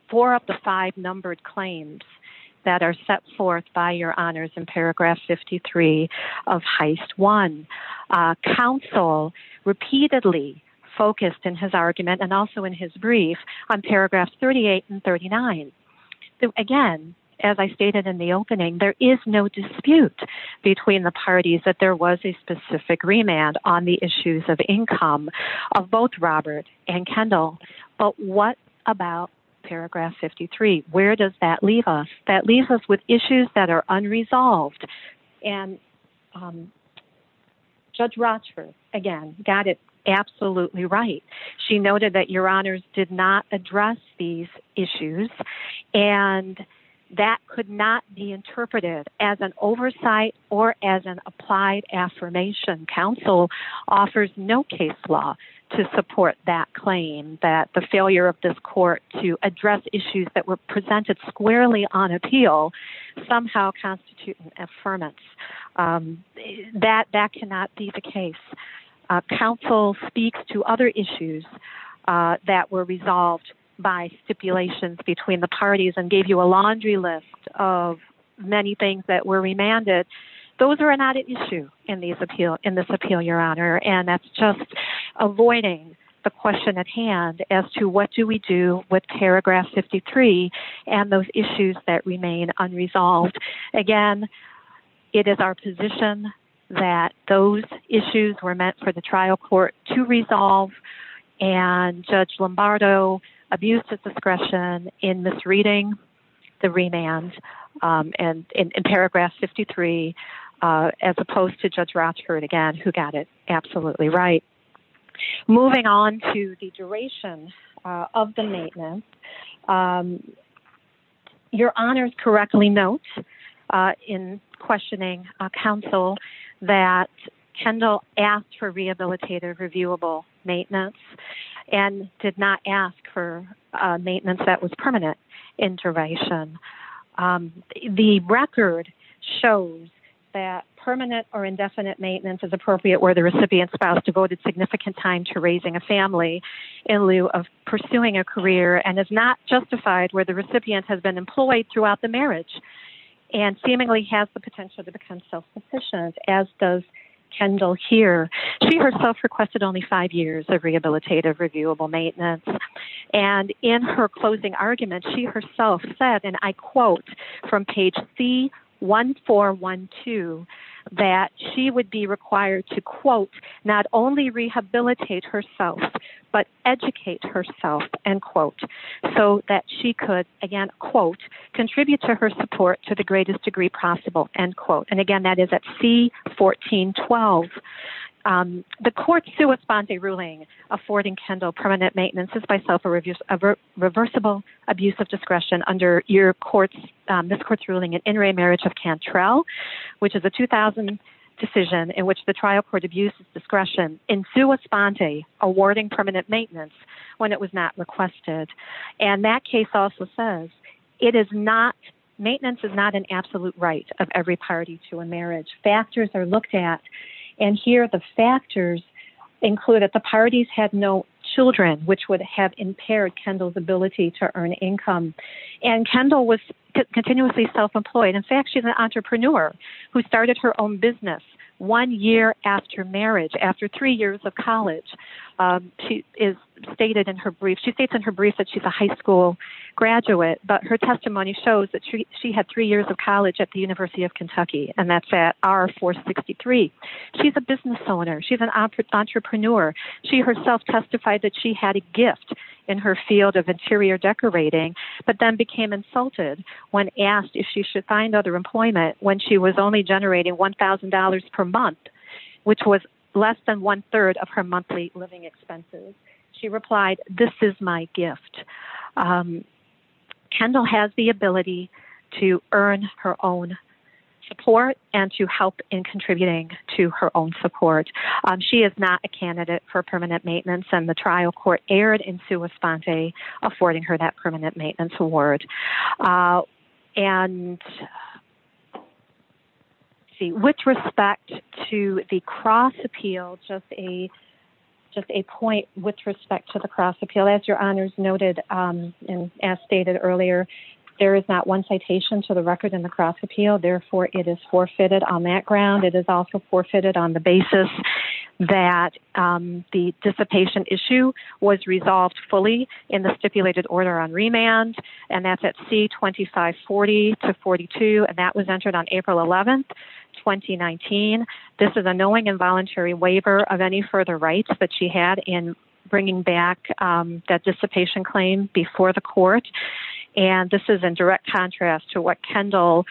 four of the five numbered claims that are set forth by your honors in paragraph 53 of heist. One, uh, counsel repeatedly focused in his argument and also in his brief on paragraph 38 and 39. Again, as I stated in the opening, there is no dispute between the parties that there was a specific remand on the issues of income of both Robert and Kendall. But what about paragraph 53? Where does that leave us? That leaves us with issues that are unresolved. And, um, judge Rochford again, got it. Absolutely right. She noted that your honors did not address these issues and that could not be interpreted as an oversight or as an applied affirmation. Counsel offers no case law to support that claim that the failure of this court to address issues that were presented squarely on appeal somehow constitute an affirmance, um, that, that cannot be the case. Uh, counsel speaks to other issues, uh, that were resolved by stipulations between the parties and gave you a laundry list of many things that were remanded. Those are not an issue in these appeal in this appeal, your honor. And that's just avoiding the question at hand as to what do we do with paragraph 53 and those issues that remain unresolved. Again, it is our position that those issues were meant for the trial court to resolve and judge Lombardo abuse of discretion in this reading the remand, um, and in paragraph 53, uh, as opposed to judge Rochford again, who got it. Absolutely right. Moving on to the duration of the maintenance, um, your honors correctly. Uh, in questioning, uh, counsel that Kendall asked for rehabilitative reviewable maintenance and did not ask for a maintenance that was permanent intervention. Um, the record shows that permanent or indefinite maintenance is appropriate where the recipient spouse devoted significant time to raising a family in lieu of pursuing a career and is not justified where the recipient has been employed throughout the marriage and seemingly has the potential to become self-sufficient as does Kendall here. She herself requested only five years of rehabilitative reviewable maintenance. And in her closing argument, she herself said, and I quote from page C one, four, one, two, that she would be required to quote, not only rehabilitate herself, but educate herself and quote, so that she could again, quote, contribute to her support, to the greatest degree possible end quote. And again, that is at C 14, 12. Um, the court to respond to a ruling affording Kendall permanent maintenance is by self or reversible abuse of discretion under your courts. Um, this court's ruling and intermarriage of Cantrell, which is a 2000 decision in which the trial court abuses discretion into a spontaneity awarding permanent maintenance when it was not requested. And that case also says it is not maintenance is not an absolute right of every party to a marriage factors are looked at. And here the factors include that the parties had no children, which would have impaired Kendall's ability to earn income. And Kendall was continuously self-employed. In fact, she's an entrepreneur who started her own business one year after marriage, after three years of college, um, is stated in her brief. She states in her brief that she's a high school graduate, but her testimony shows that she had three years of college at the university of Kentucky. And that's at R four 63. She's a business owner. She's an entrepreneur. She herself testified that she had a gift in her field of interior decorating, but then became insulted when asked if she should find other employment when she was only generating $1,000 per month, which was less than one third of her monthly living expenses. She replied, this is my gift. Um, Kendall has the ability to earn her own support and to help in contributing to her own support. She is not a candidate for permanent maintenance and the trial court aired into a spontaneity affording her that permanent maintenance award, uh, and see which respect to the cross appeal, just a, just a point with respect to the cross appeal as your honors noted. Um, and as stated earlier, there is not one citation to the record in the cross appeal. Therefore it is forfeited on that ground. It is also forfeited on the basis that, um, the dissipation issue was resolved fully in the stipulated order on remand and that's at C 25, 40 to 42. And that was entered on April 11th, 2019. This is a knowing involuntary waiver of any further rights that she had in bringing back, um, that dissipation claim before the court. And this is in direct contrast to what Kendall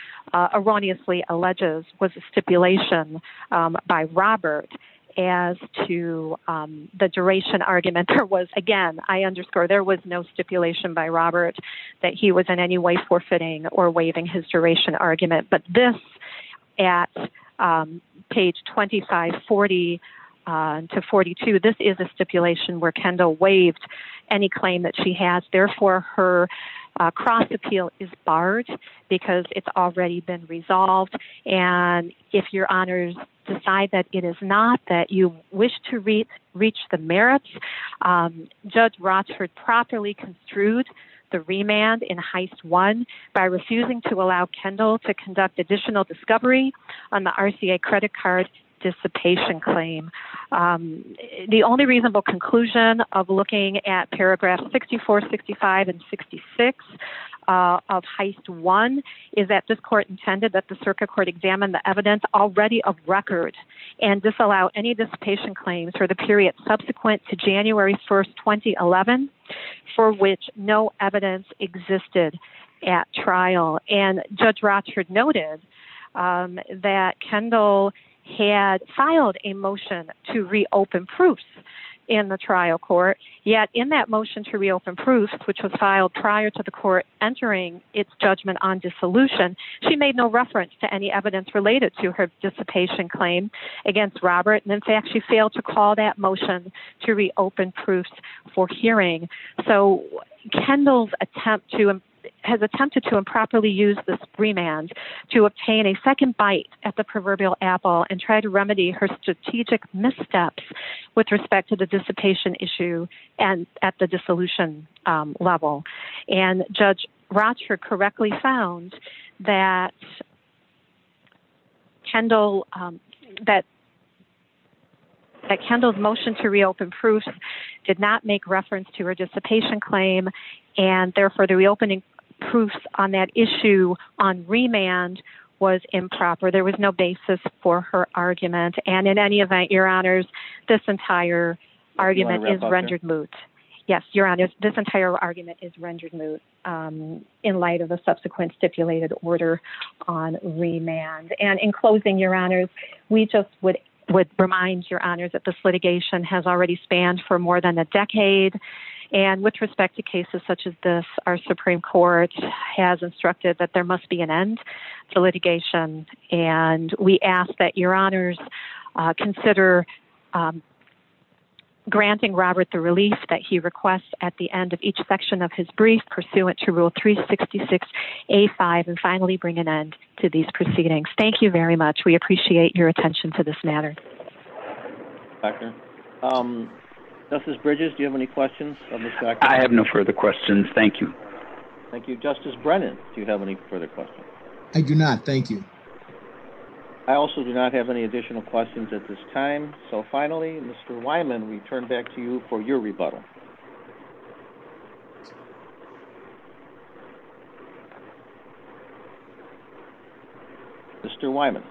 erroneously alleges was a stipulation, um, by Robert as to, um, the duration argument there was again, I underscore there was no stipulation by Robert that he was in any way forfeiting or waiving his duration argument. But this at, um, page 25, 40, uh, to 42, this is a stipulation where Kendall waived any claim that she has. Therefore her, uh, cross appeal is barred because it's already been resolved. And if your honors decide that it is not that you wish to reach, reach the merits, um, judge Rochford properly construed the remand in heist one by refusing to allow Kendall to conduct additional discovery on the RCA credit card dissipation claim. Um, the only reasonable conclusion of looking at paragraph 64, 65, and 66, uh, of heist one is that this court intended that the circuit court examined the evidence already of record and disallow any dissipation claims for the period subsequent to January 1st, 2011, for which no evidence existed at trial. And judge Rochford noted, um, that Kendall had filed a motion to reopen proofs in the trial court yet in that motion to reopen proofs, which was filed prior to the court entering its judgment on dissolution. She made no reference to any evidence related to her dissipation claim against Robert. And in fact, she failed to call that motion to reopen proofs for hearing. So Kendall's attempt to, has attempted to improperly use this remand to obtain a second bite at the proverbial apple and try to remedy her strategic missteps with respect to the dissipation issue and at the dissolution level. And judge Rochford correctly found that Kendall, um, that Kendall's motion to reopen proofs did not make reference to her dissipation claim. And therefore the reopening proofs on that issue on remand was improper. There was no basis for her argument. And in any event, your honors, this entire argument is rendered moot. Yes, your honor, this entire argument is rendered moot. Um, in light of the subsequent stipulated order on remand and in closing your honors, we just would, would remind your honors that this litigation has already spanned for more than a decade. And with respect to cases such as this, our Supreme court has instructed that there must be an end to litigation. And we ask that your honors, uh, consider, um, granting Robert the relief that he requests at the end of each section of his brief pursuant to rule three 66, a five, and finally bring an end to these proceedings. Thank you very much. We appreciate your attention to this matter. Doctor, um, this is Bridges. Do you have any questions? I have no further questions. Thank you. Thank you. Justice Brennan. Do you have any further questions? I do not. Thank you. I also do not have any additional questions at this time. So finally, Mr. Wyman, we turn back to you for your rebuttal. Mr. Wyman.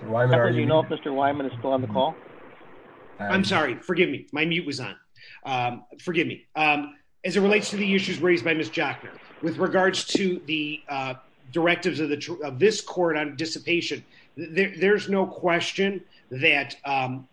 Do you know if Mr. Wyman is still on the call? I'm sorry. Forgive me. My mute was on. Forgive me. As it relates to the issues raised by Ms. Jockner with regards to the directives of this court on dissipation, there's no question that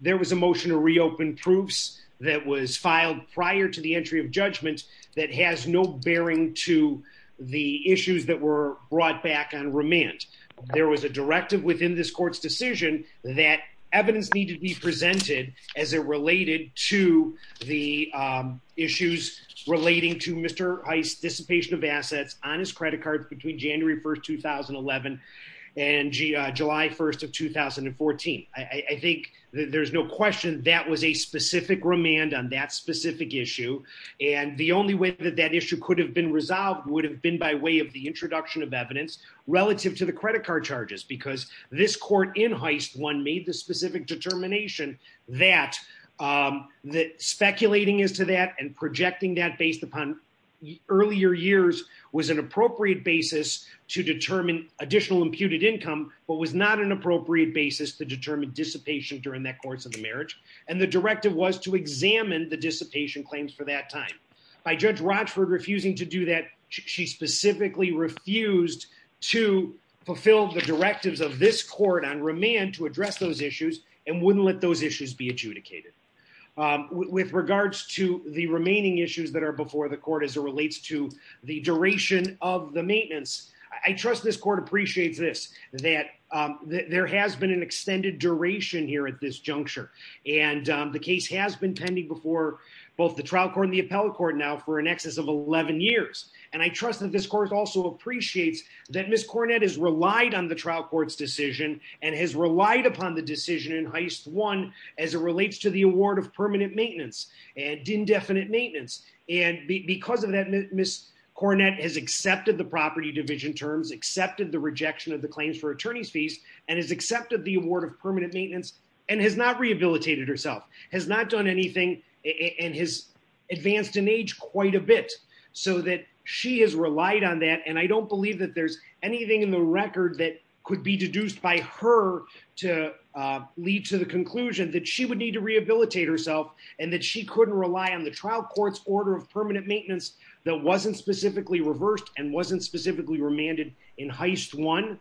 there was a motion to reopen proofs that was filed prior to the entry of judgment that has no bearing to the issues that were brought back on remand. There was a directive within this court's decision that evidence needed to be presented as it related to the issues relating to Mr. Heist's dissipation of assets on his credit cards between January 1st, 2011 and July 1st of 2014. I think there's no question that was a specific remand on that specific issue. And the only way that that issue could have been resolved would have been by way of the introduction of evidence relative to the credit card charges, because this court in Heist 1 made the specific determination that speculating as to that and projecting that based upon earlier years was an appropriate basis to determine additional imputed income, but was not an appropriate basis to determine dissipation during that course of the marriage. And the directive was to examine the dissipation claims for that time. By Judge Rochford refusing to do that, she specifically refused to fulfill the directives of this court on remand to address those issues and wouldn't let those issues be adjudicated. With regards to the remaining issues that are before the court as it relates to the duration of the maintenance, I trust this court appreciates this, that there has been an extended duration here at this juncture. And the case has been pending before both the trial court and the appellate court now for in excess of 11 years. And I trust that this court also appreciates that Ms. Cornett has relied on the trial court's decision and has relied upon the decision in Heist 1 as it relates to the award of permanent maintenance and indefinite maintenance. And because of that, Ms. Cornett has accepted the property division terms, accepted the rejection of the claims for attorney's fees, and has accepted the award of permanent maintenance and has not rehabilitated herself, has not done anything and has advanced in age quite a bit so that she has relied on that. And I don't believe that there's anything in the record that could be deduced by her to lead to the conclusion that she would need to rehabilitate herself and that she couldn't rely on the trial court's order of permanent maintenance that wasn't specifically reversed and wasn't specifically remanded in Heist 1.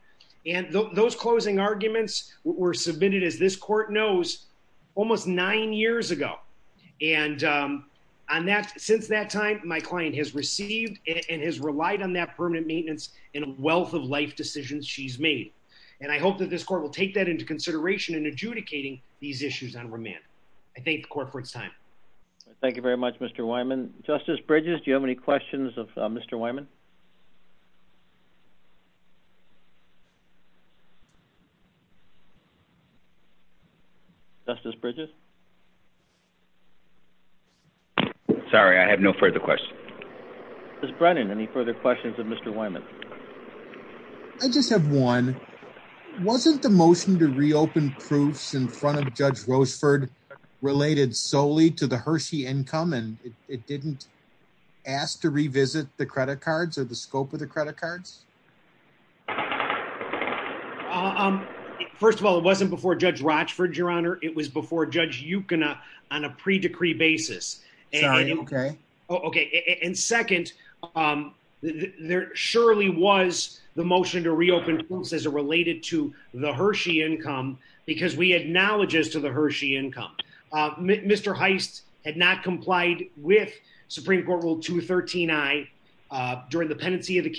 And those closing arguments were submitted, as this court knows, almost nine years ago. And since that time, my client has received and has relied on that permanent maintenance and a wealth of life decisions she's made. And I hope that this court will take that into consideration in adjudicating these issues on remand. I thank the court for its time. MR. CARRINGTON. Thank you very much, Mr. Wyman. Justice Bridges, do you have any questions of Mr. Wyman? Justice Bridges? MR. BRIDGES. Sorry, I have no further questions. MR. CARRINGTON. Justice Brennan, any further questions of Mr. Wyman? MR. BRENNAN. I just have one. Wasn't the motion to reopen proofs in front of Judge Rocheford related solely to the Hershey income, and it didn't ask to revisit the credit cards or the scope of the credit cards? MR. CARRINGTON. First of all, it wasn't before Judge Rocheford, Your Honor. It was before Judge Ukina on a pre-decree basis. BRENNAN. Sorry, okay. MR. CARRINGTON. Okay. And second, there surely was the motion to reopen proofs as it related to the Hershey income because we acknowledge as to the Hershey income. Mr. Heist had not complied with Supreme Court Rule 213i during the pendency of the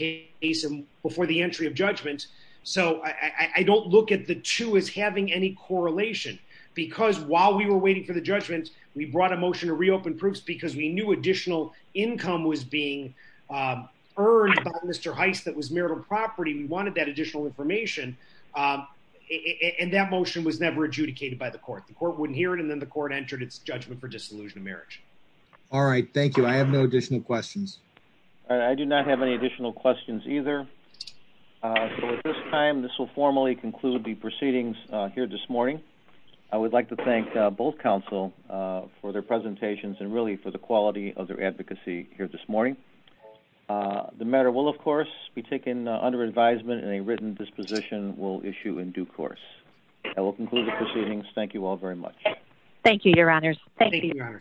case and before the entry of judgment. So I don't look at the two as having any correlation. Because while we were waiting for the judgment, we brought a motion to reopen proofs because we knew additional income was being earned by Mr. Heist that was marital property. We wanted that additional information, and that motion was never adjudicated by the court. The court wouldn't hear it, and then the court entered its judgment for disillusion of marriage. MR. CARRINGTON. All right. Thank you. I have no additional questions. MR. STEINWALD. I do not have any additional questions either. So at this time, this will formally conclude the proceedings here this morning. I would like to thank both counsel for their presentations and really for the quality of their advocacy here this morning. The matter will, of course, be taken under advisement, and a written disposition will issue in due course. That will conclude the proceedings. Thank you all very much. OPERATOR. Thank you, Your Honors. Thank you.